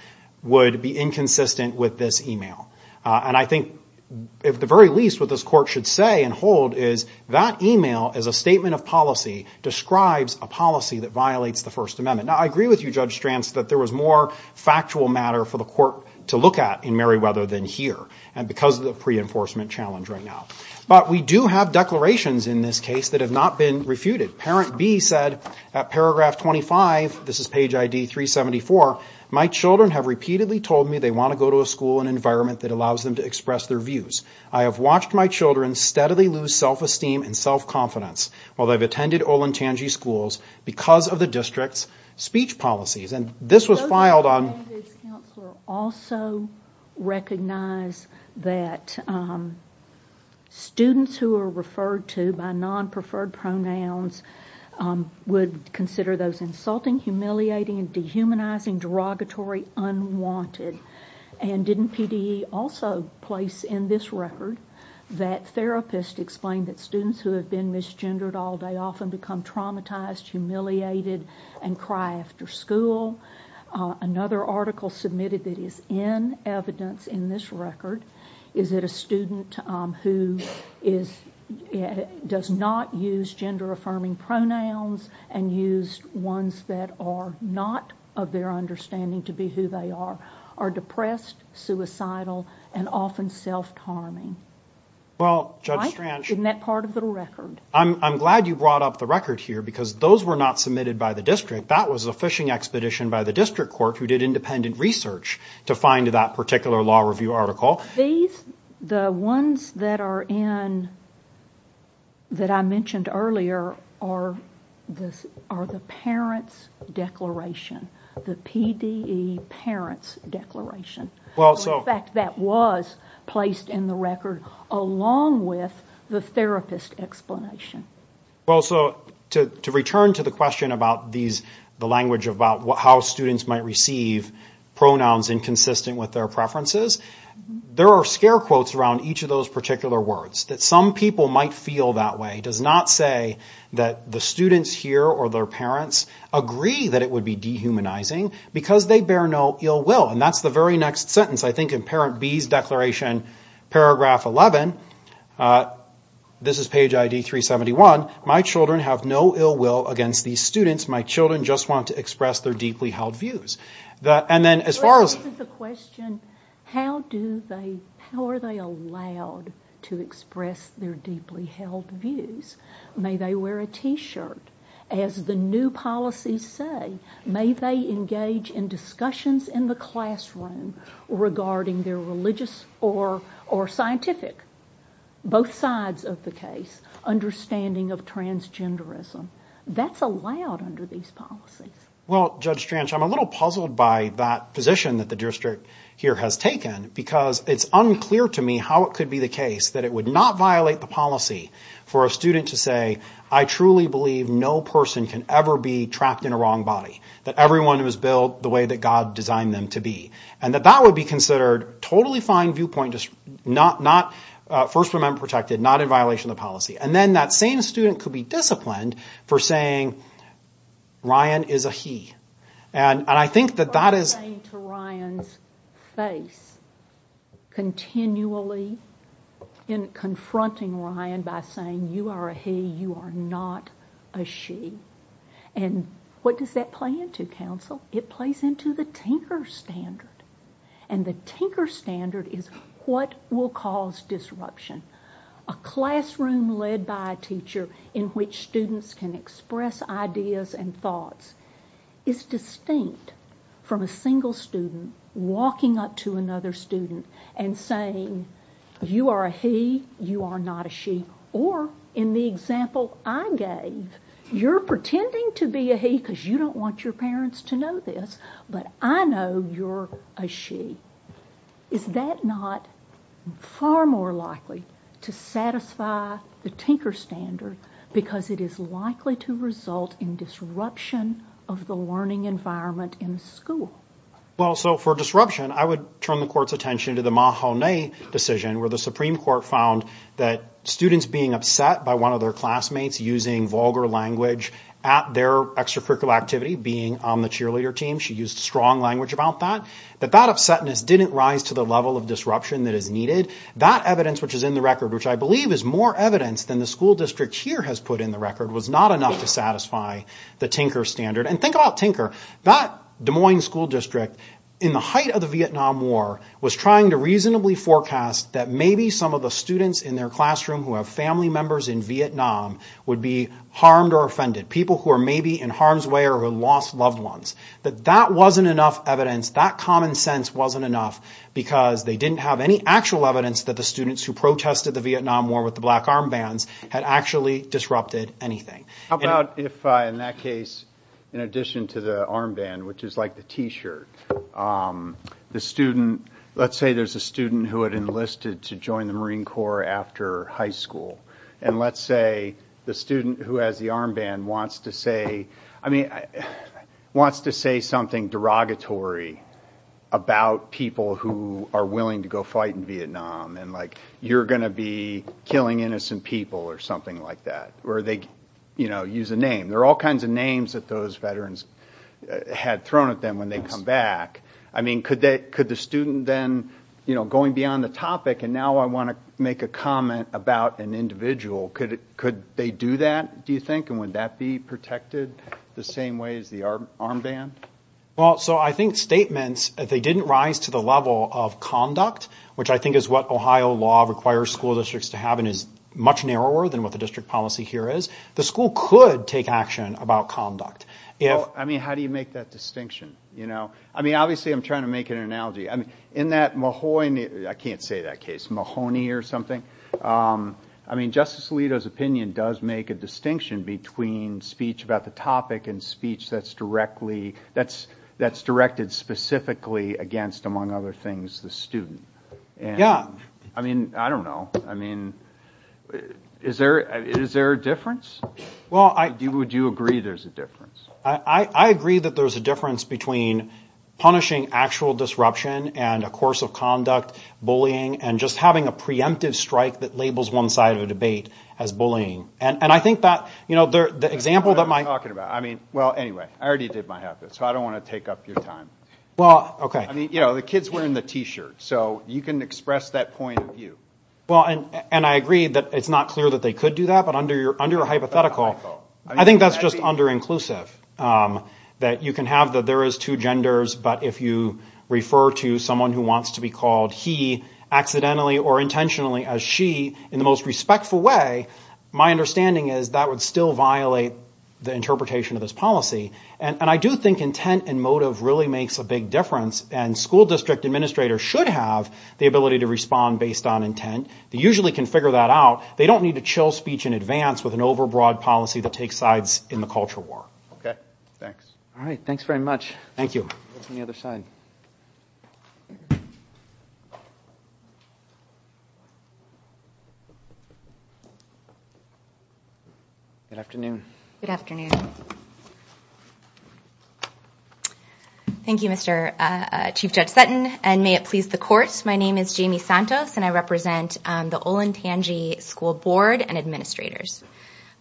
would be inconsistent with this email. And I think, at the very least, what this court should say and hold is, that email is a statement of policy, describes a policy that violates the First Amendment. Now, I agree with you, Judge Strantz, that there was more factual matter for the court to look at in Meriwether than here. And because of the pre-enforcement challenge right now. But we do have declarations in this case that have not been refuted. Parent B said, at paragraph 25, this is page ID 374, my children have repeatedly told me they want to go to a school and environment that allows them to express their views. I have watched my children steadily lose self-esteem and self-confidence while they've attended Olentangy schools because of the district's speech policies. And this was filed on... Does the language counselor also recognize that students who are referred to by non-preferred pronouns would consider those insulting, humiliating, dehumanizing, derogatory, unwanted? And didn't CDE also place in this record that therapists explain that students who have been misgendered all day often become traumatized, humiliated, and cry after school? Another article submitted that is in evidence in this record is that a student who does not use gender-affirming pronouns and use ones that are not of their understanding to be who they are are depressed, suicidal, and often self-harming. Well, Judge Strantz... Isn't that part of the record? I'm glad you brought up the record here because those were not submitted by the district. That was a fishing expedition by the district court who did independent research to find that particular law review article. The ones that are in... that I mentioned earlier are the parents' declaration. The PDE parents' declaration. In fact, that was placed in the record along with the therapist explanation. Well, so to return to the question about these... the language about how students might receive pronouns inconsistent with their preferences, there are scare quotes around each of those particular words, that some people might feel that way. It does not say that the students here or their parents agree that it would be dehumanizing because they bear no ill will. And that's the very next sentence, I think, in Parent B's declaration, paragraph 11. This is page ID 371. My children have no ill will against these students. My children just want to express their deeply held views. And then as far as... This is a question, how do they... how are they allowed to express their deeply held views? May they wear a T-shirt? As the new policies say, may they engage in discussions in the classroom regarding their religious or scientific, both sides of the case, understanding of transgenderism. That's allowed under these policies. Well, Judge Strange, I'm a little puzzled by that position that the district here has taken because it's unclear to me how it could be the case that it would not violate the policy for a student to say, I truly believe no person can ever be trapped in a wrong body, that everyone was built the way that God designed them to be. And that that would be considered totally fine viewpoint, just not First Amendment protected, not in violation of the policy. And then that same student could be disciplined for saying Ryan is a he. And I think that that is... I believe in confronting Ryan by saying you are a he, you are not a she. And what does that play into, counsel? It plays into the Tinker Standard. And the Tinker Standard is what will cause disruption. A classroom led by a teacher in which students can express ideas and thoughts is distinct from a single student walking up to another student and saying you are a he, you are not a she. Or in the example I gave, you're pretending to be a he because you don't want your parents to know this, but I know you're a she. Is that not far more likely to satisfy the Tinker Standard because it is likely to result in disruption of the learning environment in a school? Well, so for disruption, I would turn the court's attention to the Mahoney decision where the Supreme Court found that students being upset by one of their classmates using vulgar language at their extracurricular activity, being on the cheerleader team, she used strong language about that, but that upsetness didn't rise to the level of disruption that is needed. That evidence which is in the record, which I believe is more evidence than the school district here has put in the record, was not enough to satisfy the Tinker Standard. And think about Tinker. That Des Moines school district in the height of the Vietnam War was trying to reasonably forecast that maybe some of the students in their classroom who have family members in Vietnam would be harmed or offended, people who are maybe in harm's way or have lost loved ones. But that wasn't enough evidence, that common sense wasn't enough because they didn't have any actual evidence that the students who protested the Vietnam War with the black armbands had actually disrupted anything. How about if in that case, in addition to the armband, which is like the T-shirt, let's say there's a student who had enlisted to join the Marine Corps after high school, and let's say the student who has the armband wants to say something derogatory about people who are willing to go fight in Vietnam, and like you're going to be killing innocent people or something like that. Or they, you know, use a name. There are all kinds of names that those veterans had thrown at them when they come back. I mean, could the student then, you know, going beyond the topic, and now I want to make a comment about an individual, could they do that, do you think? And would that be protected the same way as the armband? Well, so I think statements, if they didn't rise to the level of conduct, which I think is what Ohio law requires school districts to have and is much narrower than what the district policy here is, the school could take action about conduct. I mean, how do you make that distinction? I mean, obviously I'm trying to make an analogy. In that Mahoney, I can't say that case, Mahoney or something, I mean Justice Alito's opinion does make a distinction between speech about the topic and speech that's directed specifically against, among other things, the student. Yeah. I mean, I don't know. I mean, is there a difference? Well, I... Would you agree there's a difference? I agree that there's a difference between punishing actual disruption and a course of conduct, bullying, and just having a preemptive strike that labels one side of the debate as bullying. And I think that, you know, the example that my... That's what I'm talking about. I mean, well, anyway, I already did my half there, so I don't want to take up your time. Well, okay. I mean, you know, the kid's wearing the T-shirt, so you can express that point of view. Well, and I agree that it's not clear that they could do that, but under your hypothetical, I think that's just under-inclusive, that you can have that there is two genders, but if you refer to someone who wants to be called he accidentally or intentionally as she, in the most respectful way, my understanding is that would still violate the interpretation of this policy. And I do think intent and motive really makes a big difference, and school district administrators should have the ability to respond based on intent. They usually can figure that out. They don't need to chill speech in advance with an overbroad policy that takes sides in the culture war. Okay. Thanks. All right. Thanks very much. Thank you. Let's go to the other side. Good afternoon. Good afternoon. Thank you, Mr. Chief Judge Sutton, and may it please the courts, my name is Jamie Santos, and I represent the Olentangy School Board and administrators.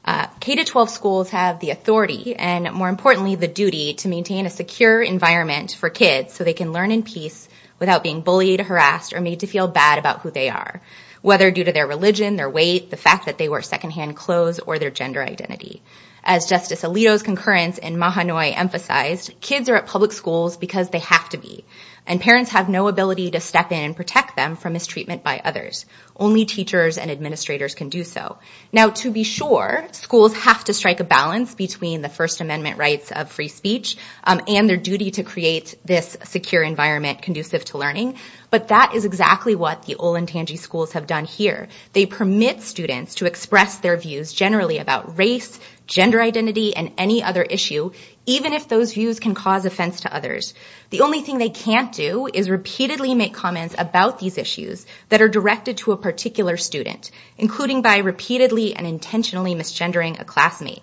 K-12 schools have the authority and, more importantly, the duty to maintain a secure environment for kids so they can learn in peace without being bullied, harassed, or made to feel bad about who they are, whether due to their religion, their weight, the fact that they wear secondhand clothes, or their gender identity. As Justice Alito's concurrence in Mahanoy emphasized, kids are at public schools because they have to be, and parents have no ability to step in and protect them from mistreatment by others. Only teachers and administrators can do so. Now, to be sure, schools have to strike a balance between the First Amendment rights of free speech and their duty to create this secure environment conducive to learning, but that is exactly what the Olentangy schools have done here. They permit students to express their views generally about race, gender identity, and any other issue, even if those views can cause offense to others. The only thing they can't do is repeatedly make comments about these issues that are directed to a particular student, including by repeatedly and intentionally misgendering a classmate.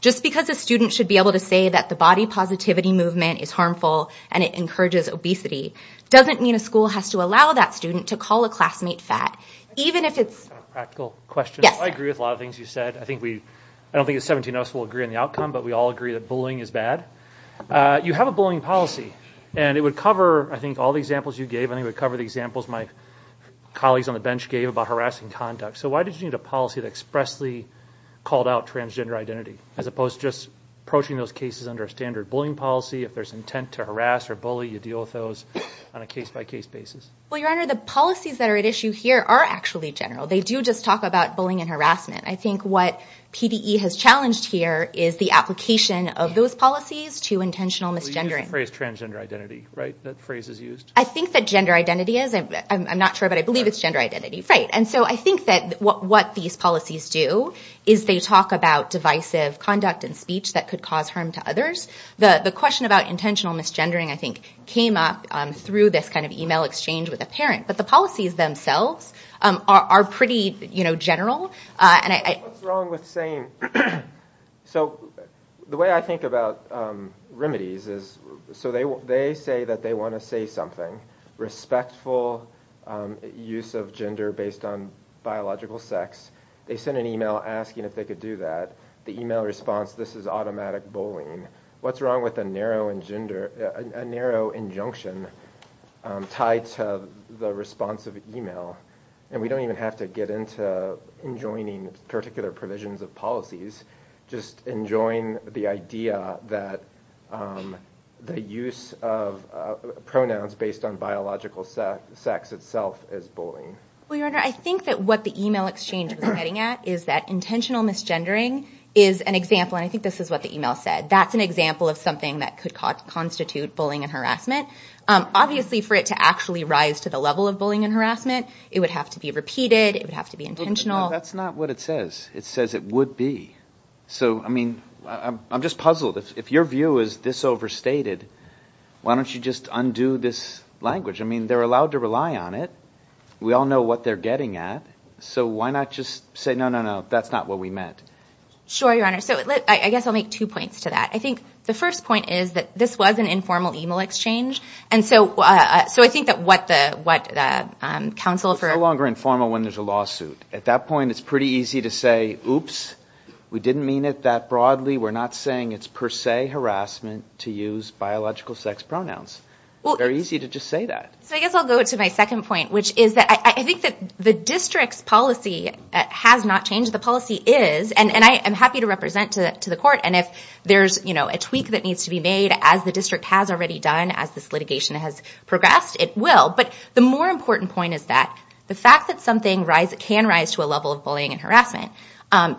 Just because a student should be able to say that the body positivity movement is harmful and it encourages obesity, doesn't mean a school has to allow that student to call a classmate fat, even if it's... A practical question. Yes. I agree with a lot of things you said. I don't think the 17 of us will agree on the outcome, but we all agree that bullying is bad. You have a bullying policy, and it would cover, I think, all the examples you gave. I think it would cover the examples my colleagues on the bench gave about harassing conduct. So why did you need a policy that expressly called out transgender identity as opposed to just approaching those cases under a standard bullying policy? If there's intent to harass or bully, you deal with those on a case-by-case basis. Well, Your Honor, the policies that are at issue here are actually general. They do just talk about bullying and harassment. I think what PDE has challenged here is the application of those policies to intentional misgendering. You used the phrase transgender identity, right? That phrase is used. I think that gender identity is. I'm not sure, but I believe it's gender identity. Right. And so I think that what these policies do is they talk about divisive conduct and speech that could cause harm to others. The question about intentional misgendering, I think, came up through this kind of e-mail exchange with a parent. But the policies themselves are pretty general. What's wrong with saying? So the way I think about remedies is so they say that they want to say something, respectful use of gender based on biological sex. They send an e-mail asking if they could do that. The e-mail response, this is automatic bullying. What's wrong with a narrow injunction tied to the response of e-mail? And we don't even have to get into enjoining particular provisions of policies, just enjoying the idea that the use of pronouns based on biological sex itself is bullying. Well, Your Honor, I think that what the e-mail exchange was getting at is that intentional misgendering is an example, and I think this is what the e-mail said. That's an example of something that could constitute bullying and harassment. Obviously for it to actually rise to the level of bullying and harassment, it would have to be repeated. It would have to be intentional. But that's not what it says. It says it would be. So, I mean, I'm just puzzled. If your view is this overstated, why don't you just undo this language? I mean, they're allowed to rely on it. We all know what they're getting at. So why not just say, no, no, no, that's not what we meant? Sure, Your Honor. So I guess I'll make two points to that. I think the first point is that this was an informal e-mail exchange, and so I think that what the counsel for – It's no longer informal when there's a lawsuit. At that point, it's pretty easy to say, oops, we didn't mean it that broadly. We're not saying it's per se harassment to use biological sex pronouns. It's very easy to just say that. So I guess I'll go to my second point, which is that I think that the district's policy has not changed. The policy is – and I am happy to represent to the court, and if there's a tweak that needs to be made, as the district has already done, as this litigation has progressed, it will. But the more important point is that the fact that something can rise to a level of bullying and harassment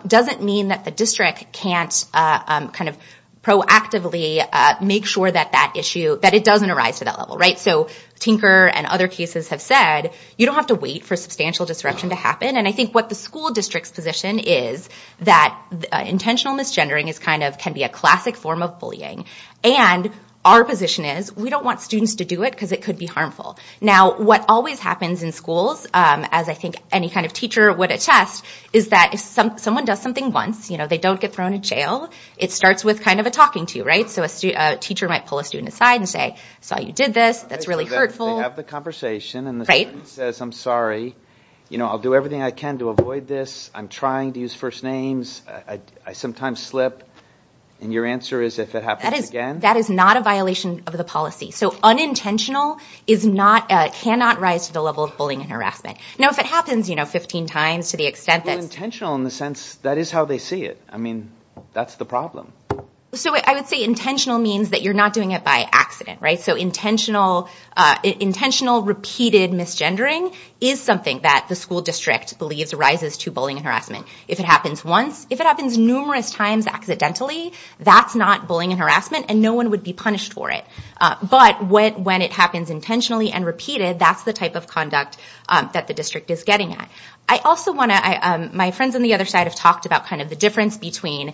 doesn't mean that the district can't kind of proactively make sure that that issue – that it doesn't arise to that level, right? So Tinker and other cases have said, you don't have to wait for substantial disruption to happen. And I think what the school district's position is that intentional misgendering is kind of – can be a classic form of bullying. And our position is, we don't want students to do it because it could be harmful. Now, what always happens in schools, as I think any kind of teacher would attest, is that if someone does something once, you know, they don't get thrown in jail, it starts with kind of a talking to, right? So a teacher might pull a student aside and say, I saw you did this. That's really hurtful. They have the conversation and the student says, I'm sorry. You know, I'll do everything I can to avoid this. I'm trying to use first names. I sometimes slip. And your answer is if it happens again? That is not a violation of the policy. So unintentional is not – cannot rise to the level of bullying and harassment. Now, if it happens, you know, 15 times to the extent that – Well, intentional in the sense that is how they see it. I mean, that's the problem. So I would say intentional means that you're not doing it by accident, right? So intentional repeated misgendering is something that the school district believes rises to bullying and harassment. If it happens once – if it happens numerous times accidentally, that's not bullying and harassment, and no one would be punished for it. But when it happens intentionally and repeated, that's the type of conduct that the district is getting at. I also want to – my friends on the other side have talked about kind of the difference between,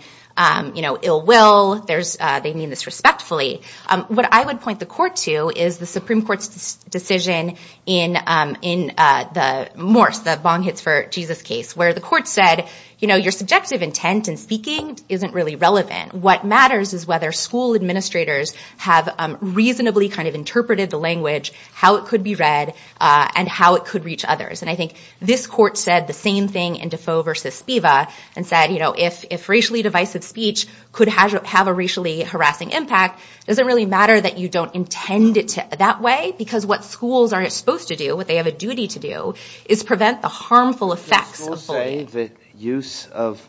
you know, ill will. They mean this respectfully. What I would point the court to is the Supreme Court's decision in the Morse, the bong hits for Jesus case, where the court said, you know, your subjective intent in speaking isn't really relevant. What matters is whether school administrators have reasonably kind of interpreted the language, how it could be read, and how it could reach others. And I think this court said the same thing in Defoe v. Spiva and said, you know, if racially divisive speech could have a racially harassing impact, does it really matter that you don't intend it that way? Because what schools are supposed to do, what they have a duty to do, is prevent the harmful effects of bullying. Did the school say that use of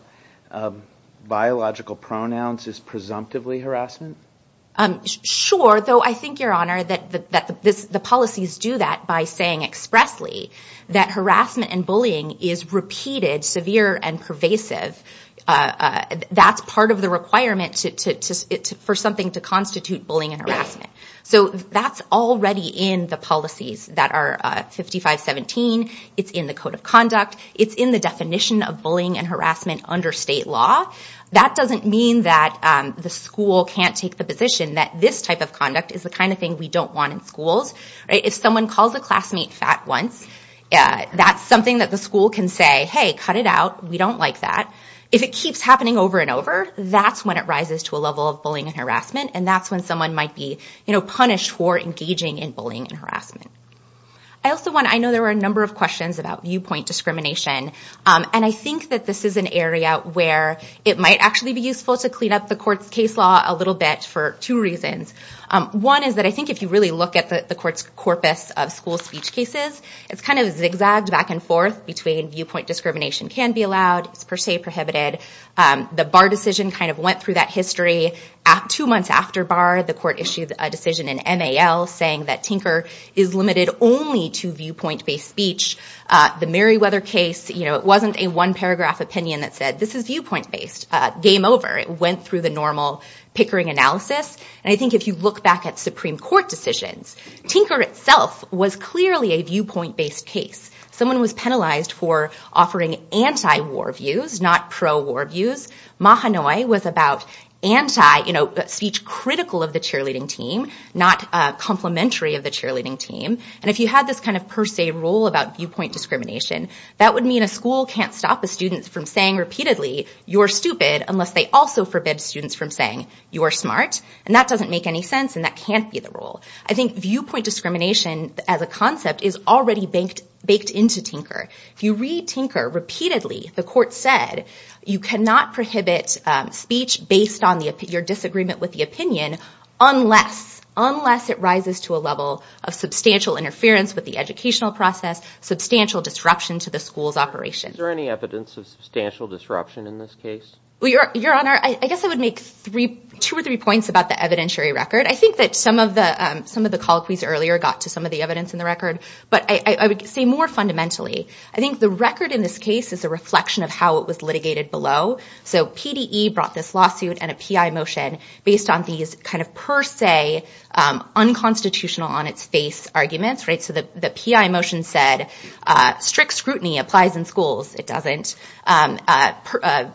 biological pronouns is presumptively harassment? Sure, though I think, Your Honor, that the policies do that by saying expressly that harassment and bullying is repeated, severe, and pervasive. That's part of the requirement for something to constitute bullying and harassment. So that's already in the policies that are 5517. It's in the Code of Conduct. It's in the definition of bullying and harassment under state law. That doesn't mean that the school can't take the position that this type of conduct is the kind of thing we don't want in schools. If someone calls a classmate fat once, that's something that the school can say, hey, cut it out, we don't like that. If it keeps happening over and over, that's when it rises to a level of bullying and harassment, and that's when someone might be punished for engaging in bullying and harassment. I know there were a number of questions about viewpoint discrimination, and I think that this is an area where it might actually be useful to clean up the court's case law a little bit for two reasons. One is that I think if you really look at the court's corpus of school speech cases, it's kind of zigzagged back and forth between viewpoint discrimination can be allowed, per se prohibited. The Barr decision kind of went through that history. Two months after Barr, the court issued a decision in NAL saying that Tinker is limited only to viewpoint-based speech. The Meriwether case, it wasn't a one-paragraph opinion that said, this is viewpoint-based. Game over. It went through the normal Pickering analysis. And I think if you look back at Supreme Court decisions, Tinker itself was clearly a viewpoint-based case. Someone was penalized for offering anti-war views, not pro-war views. Mahanoy was about speech critical of the cheerleading team, not complimentary of the cheerleading team. And if you had this kind of per se rule about viewpoint discrimination, that would mean a school can't stop the students from saying repeatedly, you're stupid, unless they also forbid students from saying, you're smart. And that doesn't make any sense, and that can't be the rule. I think viewpoint discrimination as a concept is already baked into Tinker. If you read Tinker repeatedly, the court said, you cannot prohibit speech based on your disagreement with the opinion unless it rises to a level of substantial interference with the educational process, substantial disruption to the school's operation. Is there any evidence of substantial disruption in this case? Your Honor, I guess I would make two or three points about the evidentiary record. I think that some of the colloquies earlier got to some of the evidence in the record. But I would say more fundamentally, I think the record in this case is a reflection of how it was litigated below. So PDE brought this lawsuit and a PI motion based on these kind of per se, unconstitutional on its face arguments. So the PI motion said, strict scrutiny applies in schools. It doesn't.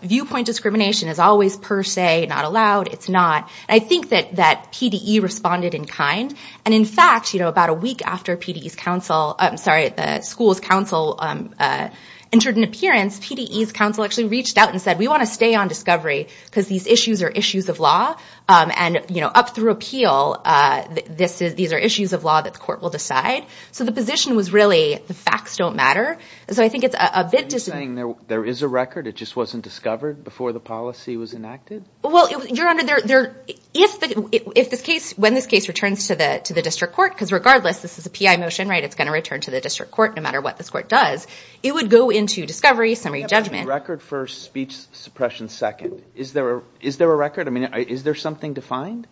Viewpoint discrimination is always per se, not allowed. It's not. I think that PDE responded in kind. And in fact, about a week after the school's counsel entered an appearance, PDE's counsel actually reached out and said, we want to stay on discovery because these issues are issues of law. And up through appeal, these are issues of law that the court will decide. So the position was really the facts don't matter. Are you saying there is a record, it just wasn't discovered before the policy was enacted? Well, Your Honor, when this case returns to the district court, because regardless, this is a PI motion, right, it's going to return to the district court no matter what this court does, it would go into discovery, summary judgment. Record first, speech suppression second. Is there a record? I mean, is there something to find?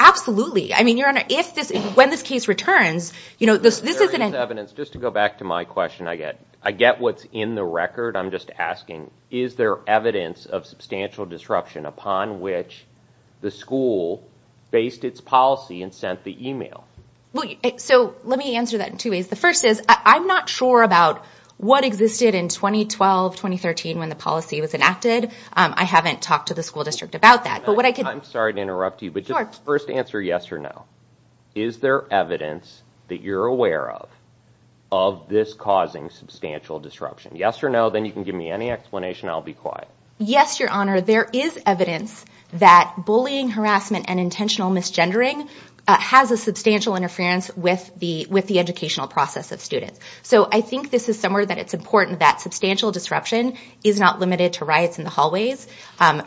Absolutely. I mean, Your Honor, when this case returns, you know, this isn't an – There is evidence. Just to go back to my question, I get what's in the record. I'm just asking, is there evidence of substantial disruption upon which the school based its policy and sent the email? So let me answer that in two ways. The first is I'm not sure about what existed in 2012, 2013 when the policy was enacted. I haven't talked to the school district about that. I'm sorry to interrupt you, but just first answer yes or no. Is there evidence that you're aware of of this causing substantial disruption? Yes or no. Then you can give me any explanation. I'll be quiet. Yes, Your Honor. There is evidence that bullying, harassment, and intentional misgendering has a substantial interference with the educational process of students. So I think this is somewhere that it's important that substantial disruption is not limited to riots in the hallways.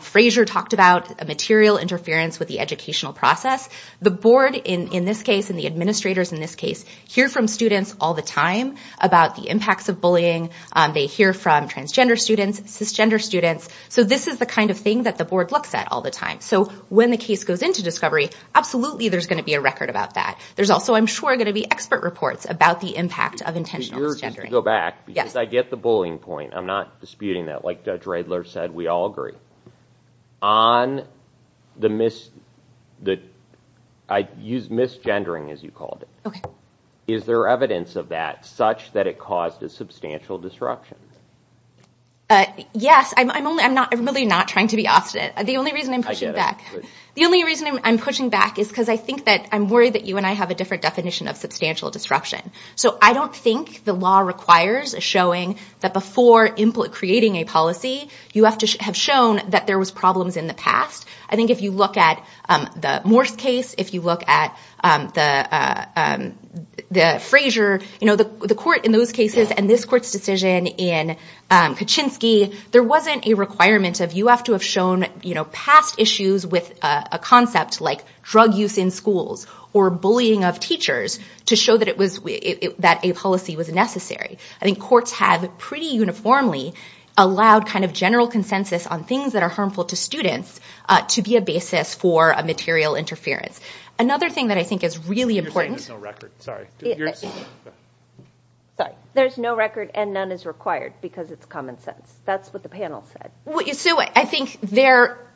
Frazier talked about a material interference with the educational process. The board, in this case, and the administrators in this case, hear from students all the time about the impacts of bullying. They hear from transgender students, cisgender students. So this is the kind of thing that the board looks at all the time. So when the case goes into discovery, absolutely there's going to be a record about that. There's also, I'm sure, going to be expert reports about the impact of intentional misgendering. Just to go back, because I get the bullying point. I'm not disputing that. Like Judge Riedler said, we all agree. I use misgendering, as you called it. Okay. Is there evidence of that such that it caused a substantial disruption? Yes. I'm really not trying to be opposite. The only reason I'm pushing back is because I think that I'm worried that you and I have a different definition of substantial disruption. So I don't think the law requires a showing that before creating a policy, you have to have shown that there was problems in the past. I think if you look at the Morse case, if you look at the Frazier, the court in those cases and this court's decision in Kaczynski, there wasn't a requirement of you have to have shown past issues with a concept like drug use in schools or bullying of teachers to show that a policy was necessary. I think courts have pretty uniformly allowed kind of general consensus on things that are harmful to students to be a basis for a material interference. Another thing that I think is really important. There's no record. Sorry. There's no record and none is required because it's common sense. That's what the panel said. So I think there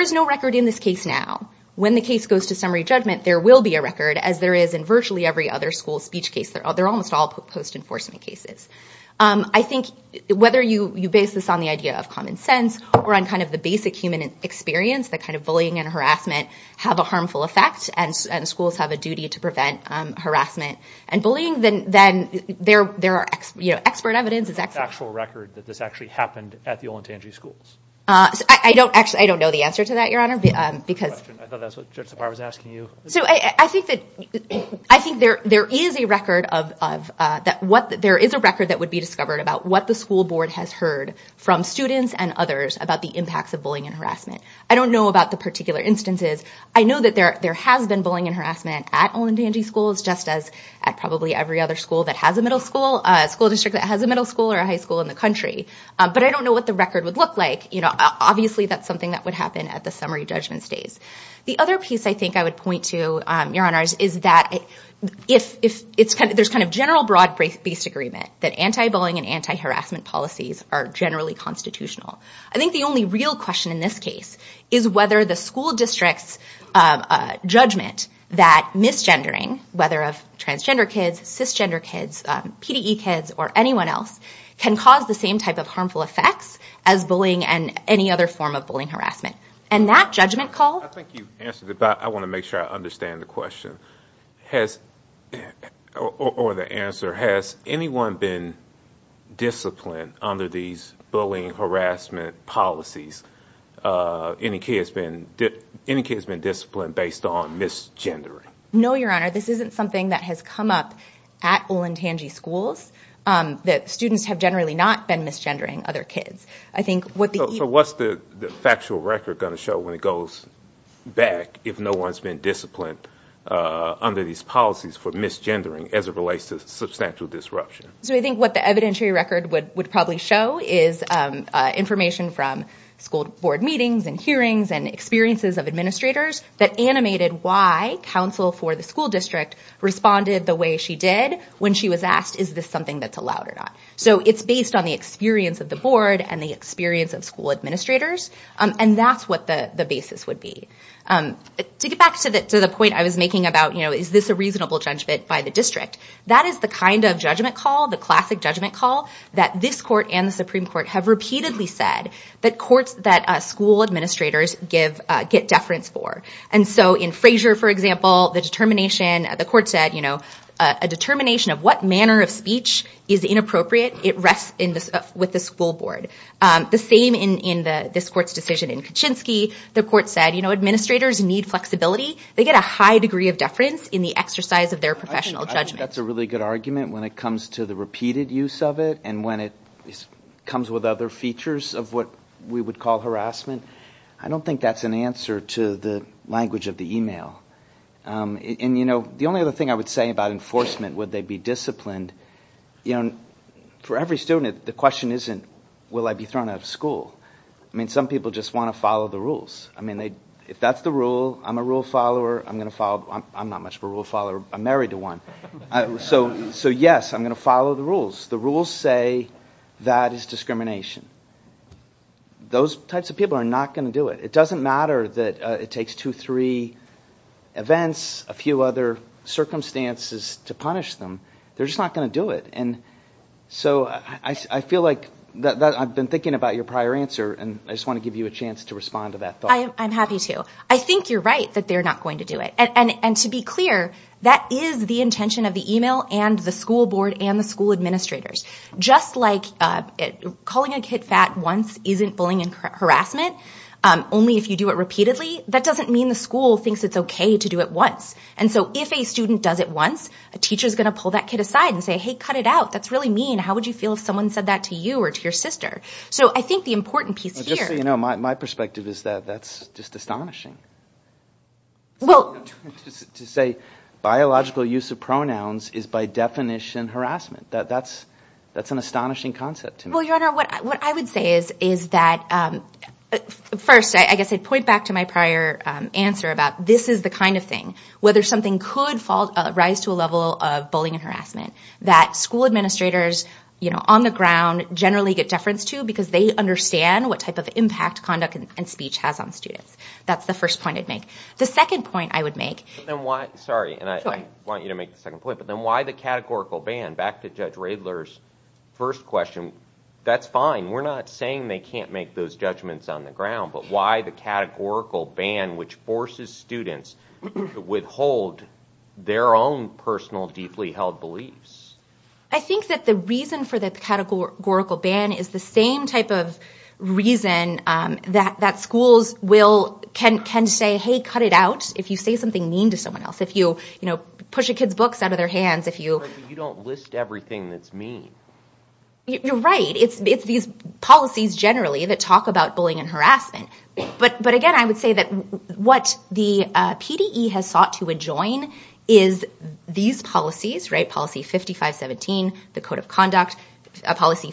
is no record in this case now. When the case goes to summary judgment, there will be a record, as there is in virtually every other school speech case. They're almost all post-enforcement cases. I think whether you base this on the idea of common sense or on kind of the basic human experience that kind of bullying and harassment have a harmful effect and schools have a duty to prevent harassment and bullying, then there are expert evidence. What is the actual record that this actually happened at the Olentangy schools? I don't know the answer to that, Your Honor. I thought that's what I was asking you. I think there is a record that would be discovered about what the school board has heard from students and others about the impacts of bullying and harassment. I don't know about the particular instances. I know that there has been bullying and harassment at Olentangy schools, just as at probably every other school that has a middle school, a school district that has a middle school or a high school in the country. But I don't know what the record would look like. Obviously, that's something that would happen at the summary judgment stage. The other piece I think I would point to, Your Honor, is that there's kind of general broad-based agreement that anti-bullying and anti-harassment policies are generally constitutional. I think the only real question in this case is whether the school district's judgment that misgendering, whether of transgender kids, cisgender kids, PDE kids, or anyone else can cause the same type of harmful effects as bullying and any other form of bullying and harassment. And that judgment call... I think you've answered it, but I want to make sure I understand the question or the answer. Has anyone been disciplined under these bullying and harassment policies? Any kids been disciplined based on misgendering? No, Your Honor. This isn't something that has come up at Olentangy schools, that students have generally not been misgendering other kids. So what's the factual record going to show when it goes back if no one's been disciplined under these policies for misgendering as it relates to substantial disruption? I think what the evidentiary record would probably show is information from school board meetings and hearings and experiences of administrators that animated why counsel for the school district responded the way she did when she was asked, is this something that's allowed or not? So it's based on the experience of the board and the experience of school administrators, and that's what the basis would be. To get back to the point I was making about, you know, is this a reasonable judgment by the district? That is the kind of judgment call, the classic judgment call, that this court and the Supreme Court have repeatedly said that courts that school administrators get deference for. And so in Frazier, for example, the determination, the court said, you know, a determination of what manner of speech is inappropriate, it rests with the school board. The same in this court's decision in Kuczynski. The court said, you know, administrators need flexibility. They get a high degree of deference in the exercise of their professional judgment. I don't think that's a really good argument when it comes to the repeated use of it and when it comes with other features of what we would call harassment. I don't think that's an answer to the language of the email. And, you know, the only other thing I would say about enforcement, would they be disciplined? You know, for every student, the question isn't, will I be thrown out of school? I mean, some people just want to follow the rules. I mean, if that's the rule, I'm a rule follower. I'm not much of a rule follower. I'm married to one. So, yes, I'm going to follow the rules. The rules say that is discrimination. Those types of people are not going to do it. It doesn't matter that it takes two, three events, a few other circumstances to punish them. They're just not going to do it. And so I feel like I've been thinking about your prior answer, and I just want to give you a chance to respond to that thought. I'm happy to. I think you're right that they're not going to do it. And to be clear, that is the intention of the email and the school board and the school administrators. Just like calling a kid fat once isn't bullying and harassment, only if you do it repeatedly, that doesn't mean the school thinks it's okay to do it once. And so if a student does it once, a teacher is going to pull that kid aside and say, hey, cut it out. That's really mean. How would you feel if someone said that to you or to your sister? Just so you know, my perspective is that that's just astonishing. To say biological use of pronouns is by definition harassment, that's an astonishing concept to me. Well, Your Honor, what I would say is that first, I guess I'd point back to my prior answer about this is the kind of thing, whether something could rise to a level of bullying and harassment, that school administrators on the ground generally get deference to because they understand what type of impact conduct and speech has on students. That's the first point I'd make. The second point I would make. Sorry, and I want you to make the second point. But then why the categorical ban? Back to Judge Riedler's first question. That's fine. We're not saying they can't make those judgments on the ground, but why the categorical ban which forces students to withhold their own personal deeply held beliefs? I think that the reason for the categorical ban is the same type of reason that schools will tend to say, hey, cut it out if you say something mean to someone else, if you push a kid's books out of their hands. You don't list everything that's mean. You're right. It's these policies generally that talk about bullying and harassment. But, again, I would say that what the PDE has sought to adjoin is these policies, right, Policy 5517, the Code of Conduct, Policy 5163.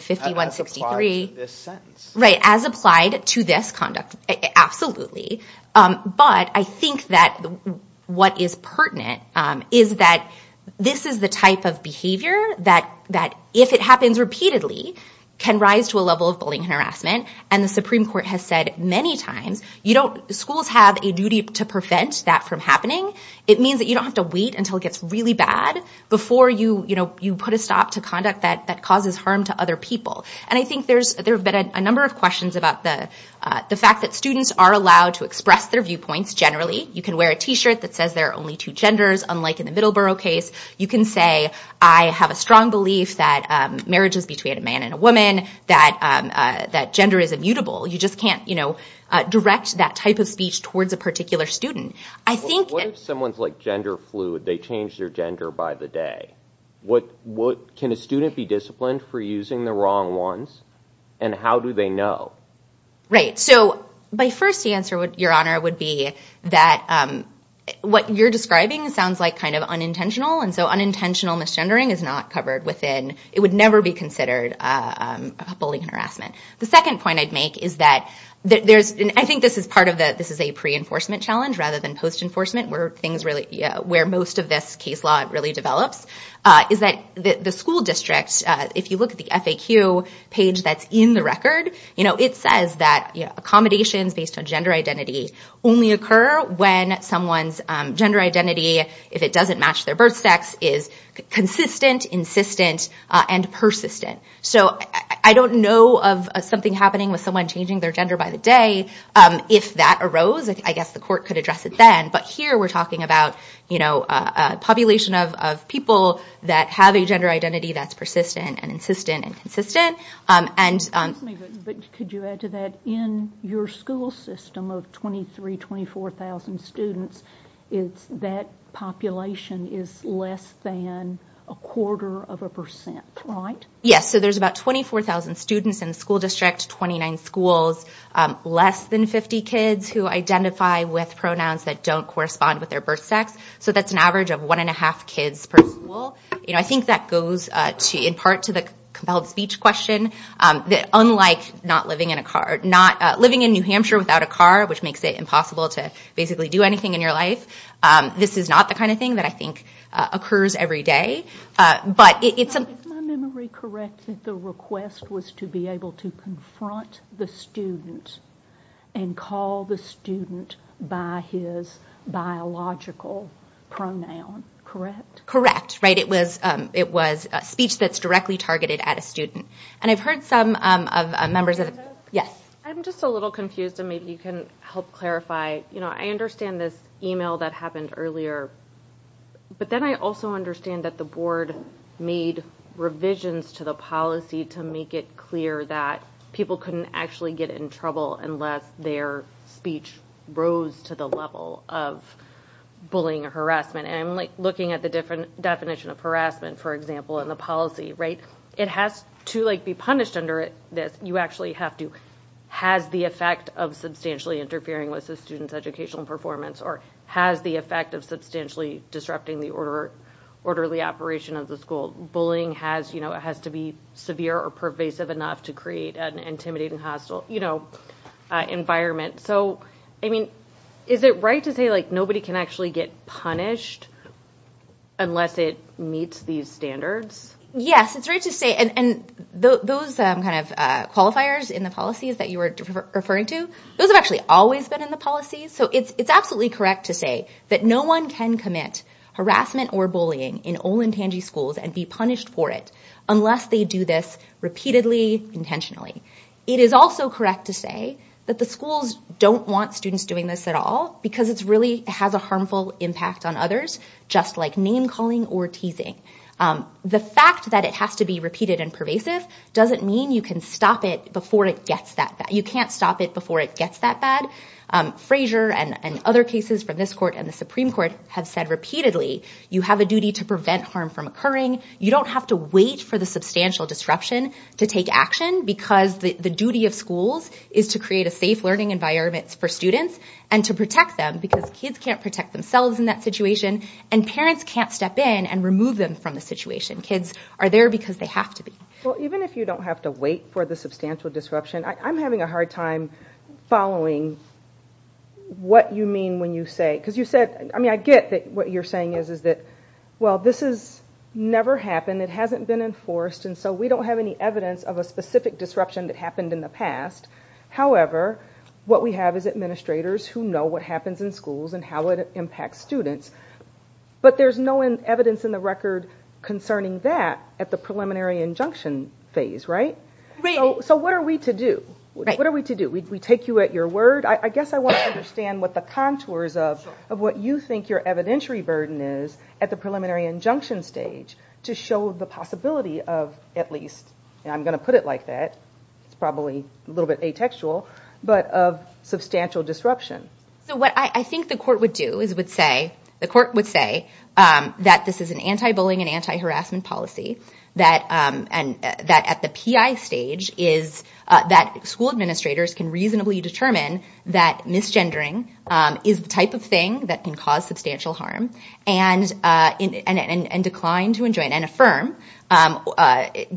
As applied to this sentence. Right, as applied to this conduct, absolutely. But I think that what is pertinent is that this is the type of behavior that, if it happens repeatedly, can rise to a level of bullying and harassment. And the Supreme Court has said many times schools have a duty to prevent that from happening. It means that you don't have to wait until it gets really bad before you put a stop to conduct that causes harm to other people. And I think there have been a number of questions about the fact that students are allowed to express their viewpoints generally. You can wear a T-shirt that says there are only two genders, unlike in the Middleborough case. You can say I have a strong belief that marriage is between a man and a woman, that gender is immutable. You just can't, you know, direct that type of speech toward the particular student. What if someone's like gender fluid? They change their gender by the day. Can a student be disciplined for using the wrong ones? And how do they know? Right, so my first answer, Your Honor, would be that what you're describing sounds like kind of unintentional. And so unintentional misgendering is not covered within, it would never be considered bullying and harassment. The second point I'd make is that, I think this is a pre-enforcement challenge rather than post-enforcement where most of this case law really develops, is that the school district, if you look at the FAQ page that's in the record, it says that accommodations based on gender identity only occur when someone's gender identity, if it doesn't match their birth sex, is consistent, insistent, and persistent. So I don't know of something happening with someone changing their gender by the day. If that arose, I guess the court could address it then. But here we're talking about a population of people that have a gender identity that's persistent and insistent and consistent. But could you add to that, in your school system of 23,000, 24,000 students, that population is less than a quarter of a percent, right? Yes, so there's about 24,000 students in the school district, 29 schools, less than 50 kids who identify with pronouns that don't correspond with their birth sex. So that's an average of one and a half kids per school. I think that goes, in part, to the compelled speech question, that unlike not living in a car, living in New Hampshire without a car, which makes it impossible to basically do anything in your life, this is not the kind of thing that I think occurs every day. But it's a... If my memory corrects it, the request was to be able to confront the student and call the student by his biological pronoun, correct? It was speech that's directly targeted at a student. And I've heard some members... Yes? I'm just a little confused, and maybe you can help clarify. I understand this email that happened earlier, but then I also understand that the board made revisions to the policy to make it clear that people couldn't actually get in trouble unless their speech rose to the level of bullying or harassment. And looking at the definition of harassment, for example, in the policy, it has to be punished under it that you actually have to... Has the effect of substantially interfering with the student's educational performance or has the effect of substantially disrupting the orderly operation of the school. Bullying has to be severe or pervasive enough to create an intimidating hostile environment. So, I mean, is it right to say nobody can actually get punished unless it meets these standards? Yes, it's right to say... And those kind of qualifiers in the policies that you were referring to, those have actually always been in the policy. So it's absolutely correct to say that no one can commit harassment or bullying in Olentangy schools and be punished for it unless they do this repeatedly, intentionally. It is also correct to say that the schools don't want students doing this at all because it really has a harmful impact on others, just like name-calling or teasing. The fact that it has to be repeated and pervasive doesn't mean you can stop it before it gets that bad. You can't stop it before it gets that bad. Fraser and other cases from this court and the Supreme Court have said repeatedly you have a duty to prevent harm from occurring. You don't have to wait for the substantial disruption to take action because the duty of schools is to create a safe learning environment for students and to protect them because kids can't protect themselves in that situation and parents can't step in and remove them from the situation. Kids are there because they have to be. Well, even if you don't have to wait for the substantial disruption, I'm having a hard time following what you mean when you say... Because you said... I mean, I get that what you're saying is that, well, this has never happened, it hasn't been enforced, and so we don't have any evidence of a specific disruption that happened in the past. However, what we have is administrators who know what happens in schools and how it impacts students, but there's no evidence in the record concerning that at the preliminary injunction phase, right? So what are we to do? What are we to do? We take you at your word? I guess I want to understand what the contours of what you think your evidentiary burden is at the preliminary injunction stage to show the possibility of, at least, and I'm going to put it like that, it's probably a little bit atextual, but of substantial disruption. So what I think the court would do is it would say, the court would say that this is an anti-bullying and anti-harassment policy that at the PI stage is that school administrators can reasonably determine that misgendering is the type of thing that can cause substantial harm and decline to enjoin and affirm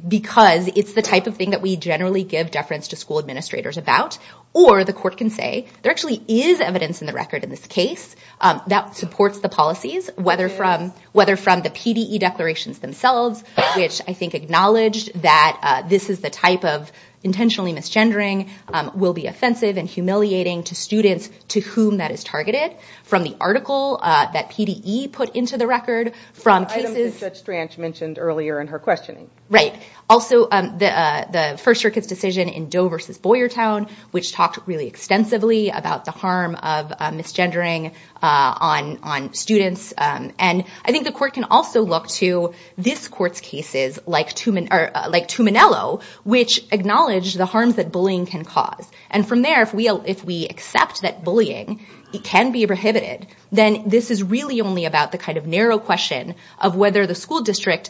because it's the type of thing that we generally give deference to school administrators about or the court can say, there actually is evidence in the record in this case that supports the policies, whether from the PDE declarations themselves, which I think acknowledge that this is the type of intentionally misgendering will be offensive and humiliating to students to whom that is targeted from the article that PDE put into the record from cases... I think Judge Strach mentioned earlier in her questioning. Right. Also, the First Circuit's decision in Doe v. Boyertown, which talked really extensively about the harm of misgendering on students and I think the court can also look to this court's cases like Tuminello, which acknowledged the harms that bullying can cause and from there, if we accept that bullying can be prohibited, then this is really only about the kind of narrow question of whether the school district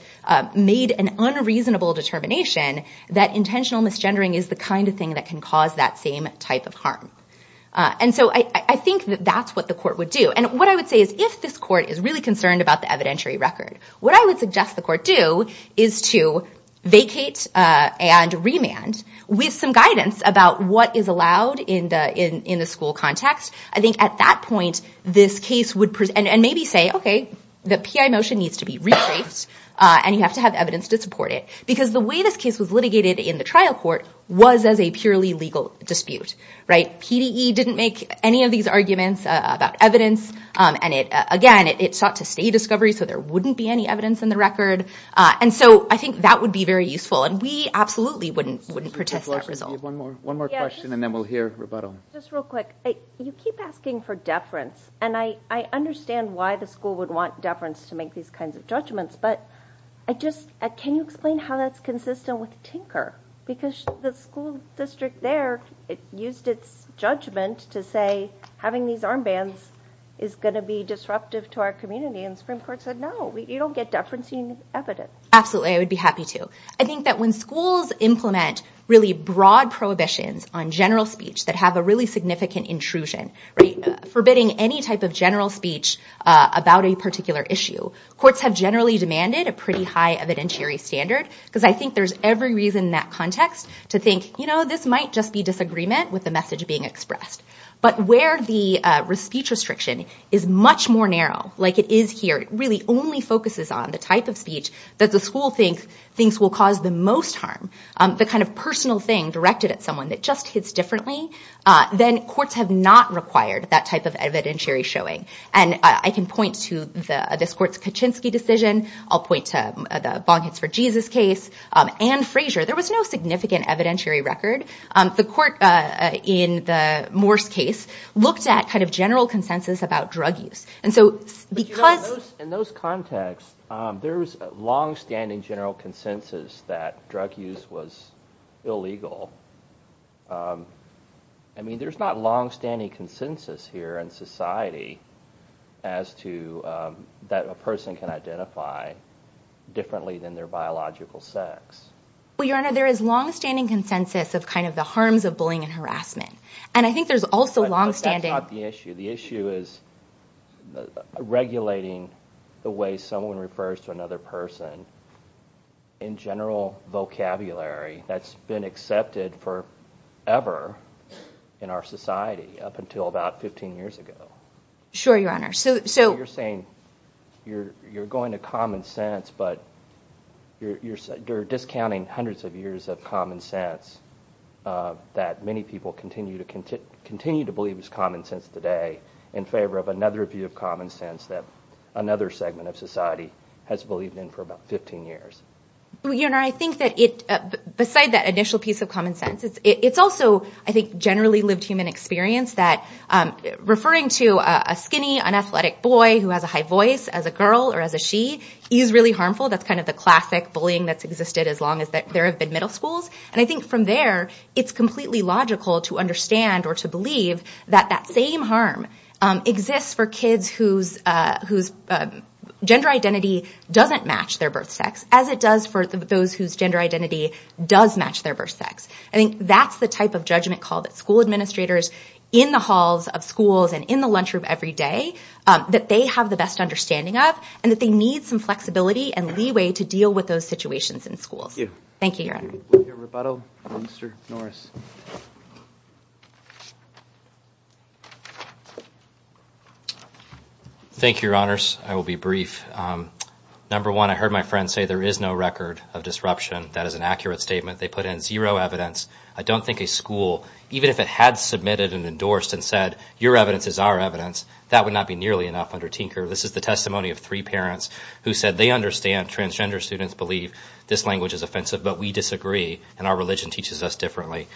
made an unreasonable determination that intentional misgendering is the kind of thing that can cause that same type of harm. And so I think that that's what the court would do and what I would say is if this court is really concerned about the evidentiary record, what I would suggest the court do is to vacate and remand with some guidance about what is allowed in the school context. I think at that point, this case would... and maybe say, okay, the PI motion needs to be replaced and you have to have evidence to support it because the way this case was litigated in the trial court was as a purely legal dispute. PDE didn't make any of these arguments about evidence and again, it sought to stay discovery so there wouldn't be any evidence in the record and so I think that would be very useful and we absolutely wouldn't protest that result. One more question and then we'll hear rebuttal. Just real quick, you keep asking for deference and I understand why the school would want deference to make these kinds of judgments but can you explain how that's consistent with Tinker? Because the school district there used its judgment to say having these armbands is going to be disruptive to our community and the Supreme Court said no, you don't get deference in evidence. Absolutely, I would be happy to. I think that when schools implement really broad prohibitions on general speech that have a really significant intrusion, forbidding any type of general speech about a particular issue, courts have generally demanded a pretty high evidentiary standard because I think there's every reason in that context to think, you know, this might just be disagreement with the message being expressed but where the speech restriction is much more narrow, like it is here, really only focuses on the type of speech that the school thinks will cause the most harm, the kind of personal thing directed at someone that just hits differently, then courts have not required that type of evidentiary showing and I can point to this court's Kaczynski decision. I'll point to the Bong Hits for Jesus case and Frazier. There was no significant evidentiary record. The court in the Morse case looked at kind of general consensus about drug use In those contexts, there's long-standing general consensus that drug use was illegal. I mean, there's not long-standing consensus here in society as to that a person can identify differently than their biological sex. Your Honor, there is long-standing consensus of kind of the harms of bullying and harassment and I think there's also long-standing The issue is regulating the way someone refers to another person in general vocabulary that's been accepted forever in our society up until about 15 years ago. Sure, Your Honor. So you're saying you're going to common sense but you're discounting hundreds of years of common sense that many people continue to believe is common sense today in favor of another view of common sense that another segment of society has believed in for about 15 years. Your Honor, I think that beside that initial piece of common sense, it's also, I think, generally lived human experience that referring to a skinny, unathletic boy who has a high voice as a girl or as a she is really harmful. That's kind of the classic bullying that's existed as long as there have been middle schools and I think from there, it's completely logical to understand or to believe that that same harm exists for kids whose gender identity doesn't match their birth sex as it does for those whose gender identity does match their birth sex. I think that's the type of judgment call that school administrators in the halls of schools and in the lunchroom every day that they have the best understanding of and that they need some flexibility and leeway to deal with those situations in schools. Thank you. Thank you, Your Honor. We'll hear rebuttal from Mr. Norris. Thank you, Your Honors. I will be brief. Number one, I heard my friend say there is no record of disruption. That is an accurate statement. They put in zero evidence. I don't think a school, even if it had submitted and endorsed and said your evidence is our evidence, that would not be nearly enough under Tinker. This is the testimony of three parents who said they understand and transgender students believe this language is offensive, but we disagree and our religion teaches us differently.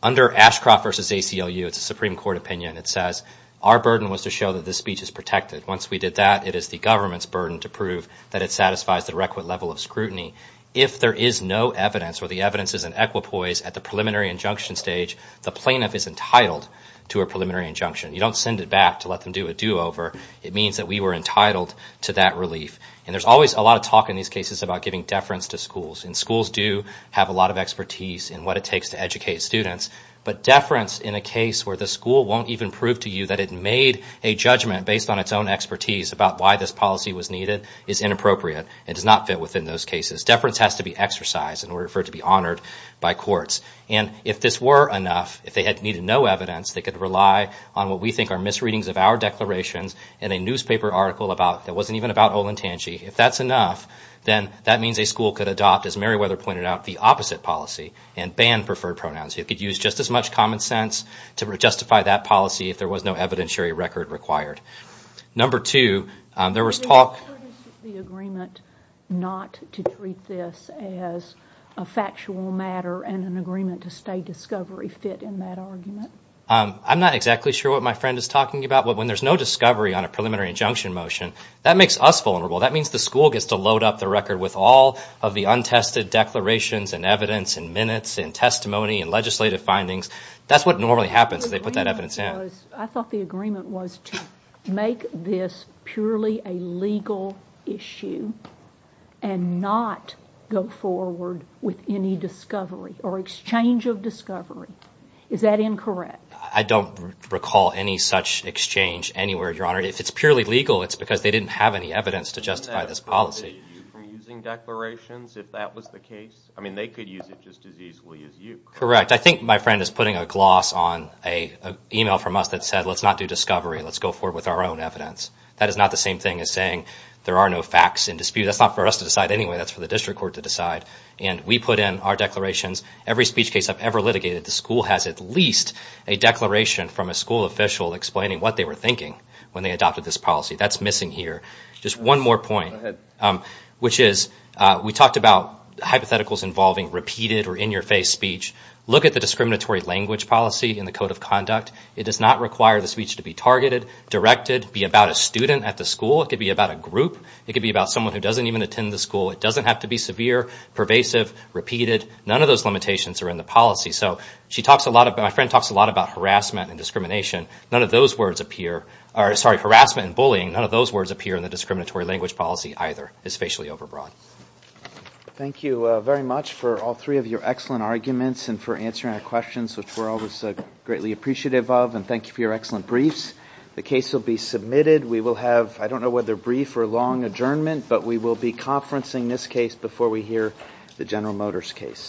Under Ashcroft v. ACLU, it's a Supreme Court opinion. It says our burden was to show that this speech is protected. Once we did that, it is the government's burden to prove that it satisfies the requisite level of scrutiny. If there is no evidence or the evidence is in equipoise at the preliminary injunction stage, the plaintiff is entitled to a preliminary injunction. You don't send it back to let them do a do-over. It means that we were entitled to that relief. There is always a lot of talk in these cases about giving deference to schools. Schools do have a lot of expertise in what it takes to educate students, but deference in a case where the school won't even prove to you that it made a judgment based on its own expertise about why this policy was needed is inappropriate. It does not fit within those cases. Deference has to be exercised in order for it to be honored by courts. If this were enough, if they had needed no evidence, they could rely on what we think are misreadings of our declarations in a newspaper article that wasn't even about Olentangy. If that's enough, then that means a school could adopt, as Meriwether pointed out, the opposite policy and ban preferred pronouns. It could use just as much common sense to justify that policy if there was no evidentiary record required. Number two, there was talk... Is it the agreement not to treat this as a factual matter and an agreement to stay discovery fit in that argument? I'm not exactly sure what my friend is talking about. When there's no discovery on a preliminary injunction motion, that makes us vulnerable. That means the school gets to load up the record with all of the untested declarations and evidence and minutes and testimony and legislative findings. That's what normally happens if they put that evidence in. I thought the agreement was to make this purely a legal issue and not go forward with any discovery or exchange of discovery. Is that incorrect? I don't recall any such exchange anywhere, Your Honor. If it's purely legal, it's because they didn't have any evidence to justify this policy. Using declarations if that was the case? They could use it just as easily as you. Correct. I think my friend is putting a gloss on an email from us that said let's not do discovery. Let's go forward with our own evidence. That is not the same thing as saying there are no facts in dispute. That's not for us to decide anyway. That's for the district court to decide. We put in our declarations. Every speech case I've ever litigated, the school has at least a declaration from a school official explaining what they were thinking when they adopted this policy. That's missing here. Just one more point, which is we talked about hypotheticals involving repeated or in-your-face speech. Look at the discriminatory language policy in the Code of Conduct. It does not require the speech to be targeted, directed, be about a student at the school. It could be about a group. It could be about someone who doesn't even attend the school. It doesn't have to be severe, pervasive, repeated. None of those limitations are in the policy. My friend talks a lot about harassment and discrimination. None of those words appear. Sorry, harassment and bullying, none of those words appear in the discriminatory language policy either. It's facially overbroad. Thank you very much for all three of your excellent arguments and for answering our questions, which we're always greatly appreciative of, and thank you for your excellent briefs. The case will be submitted. We will have, I don't know whether brief or long adjournment, but we will be conferencing this case before we hear the General Motors case.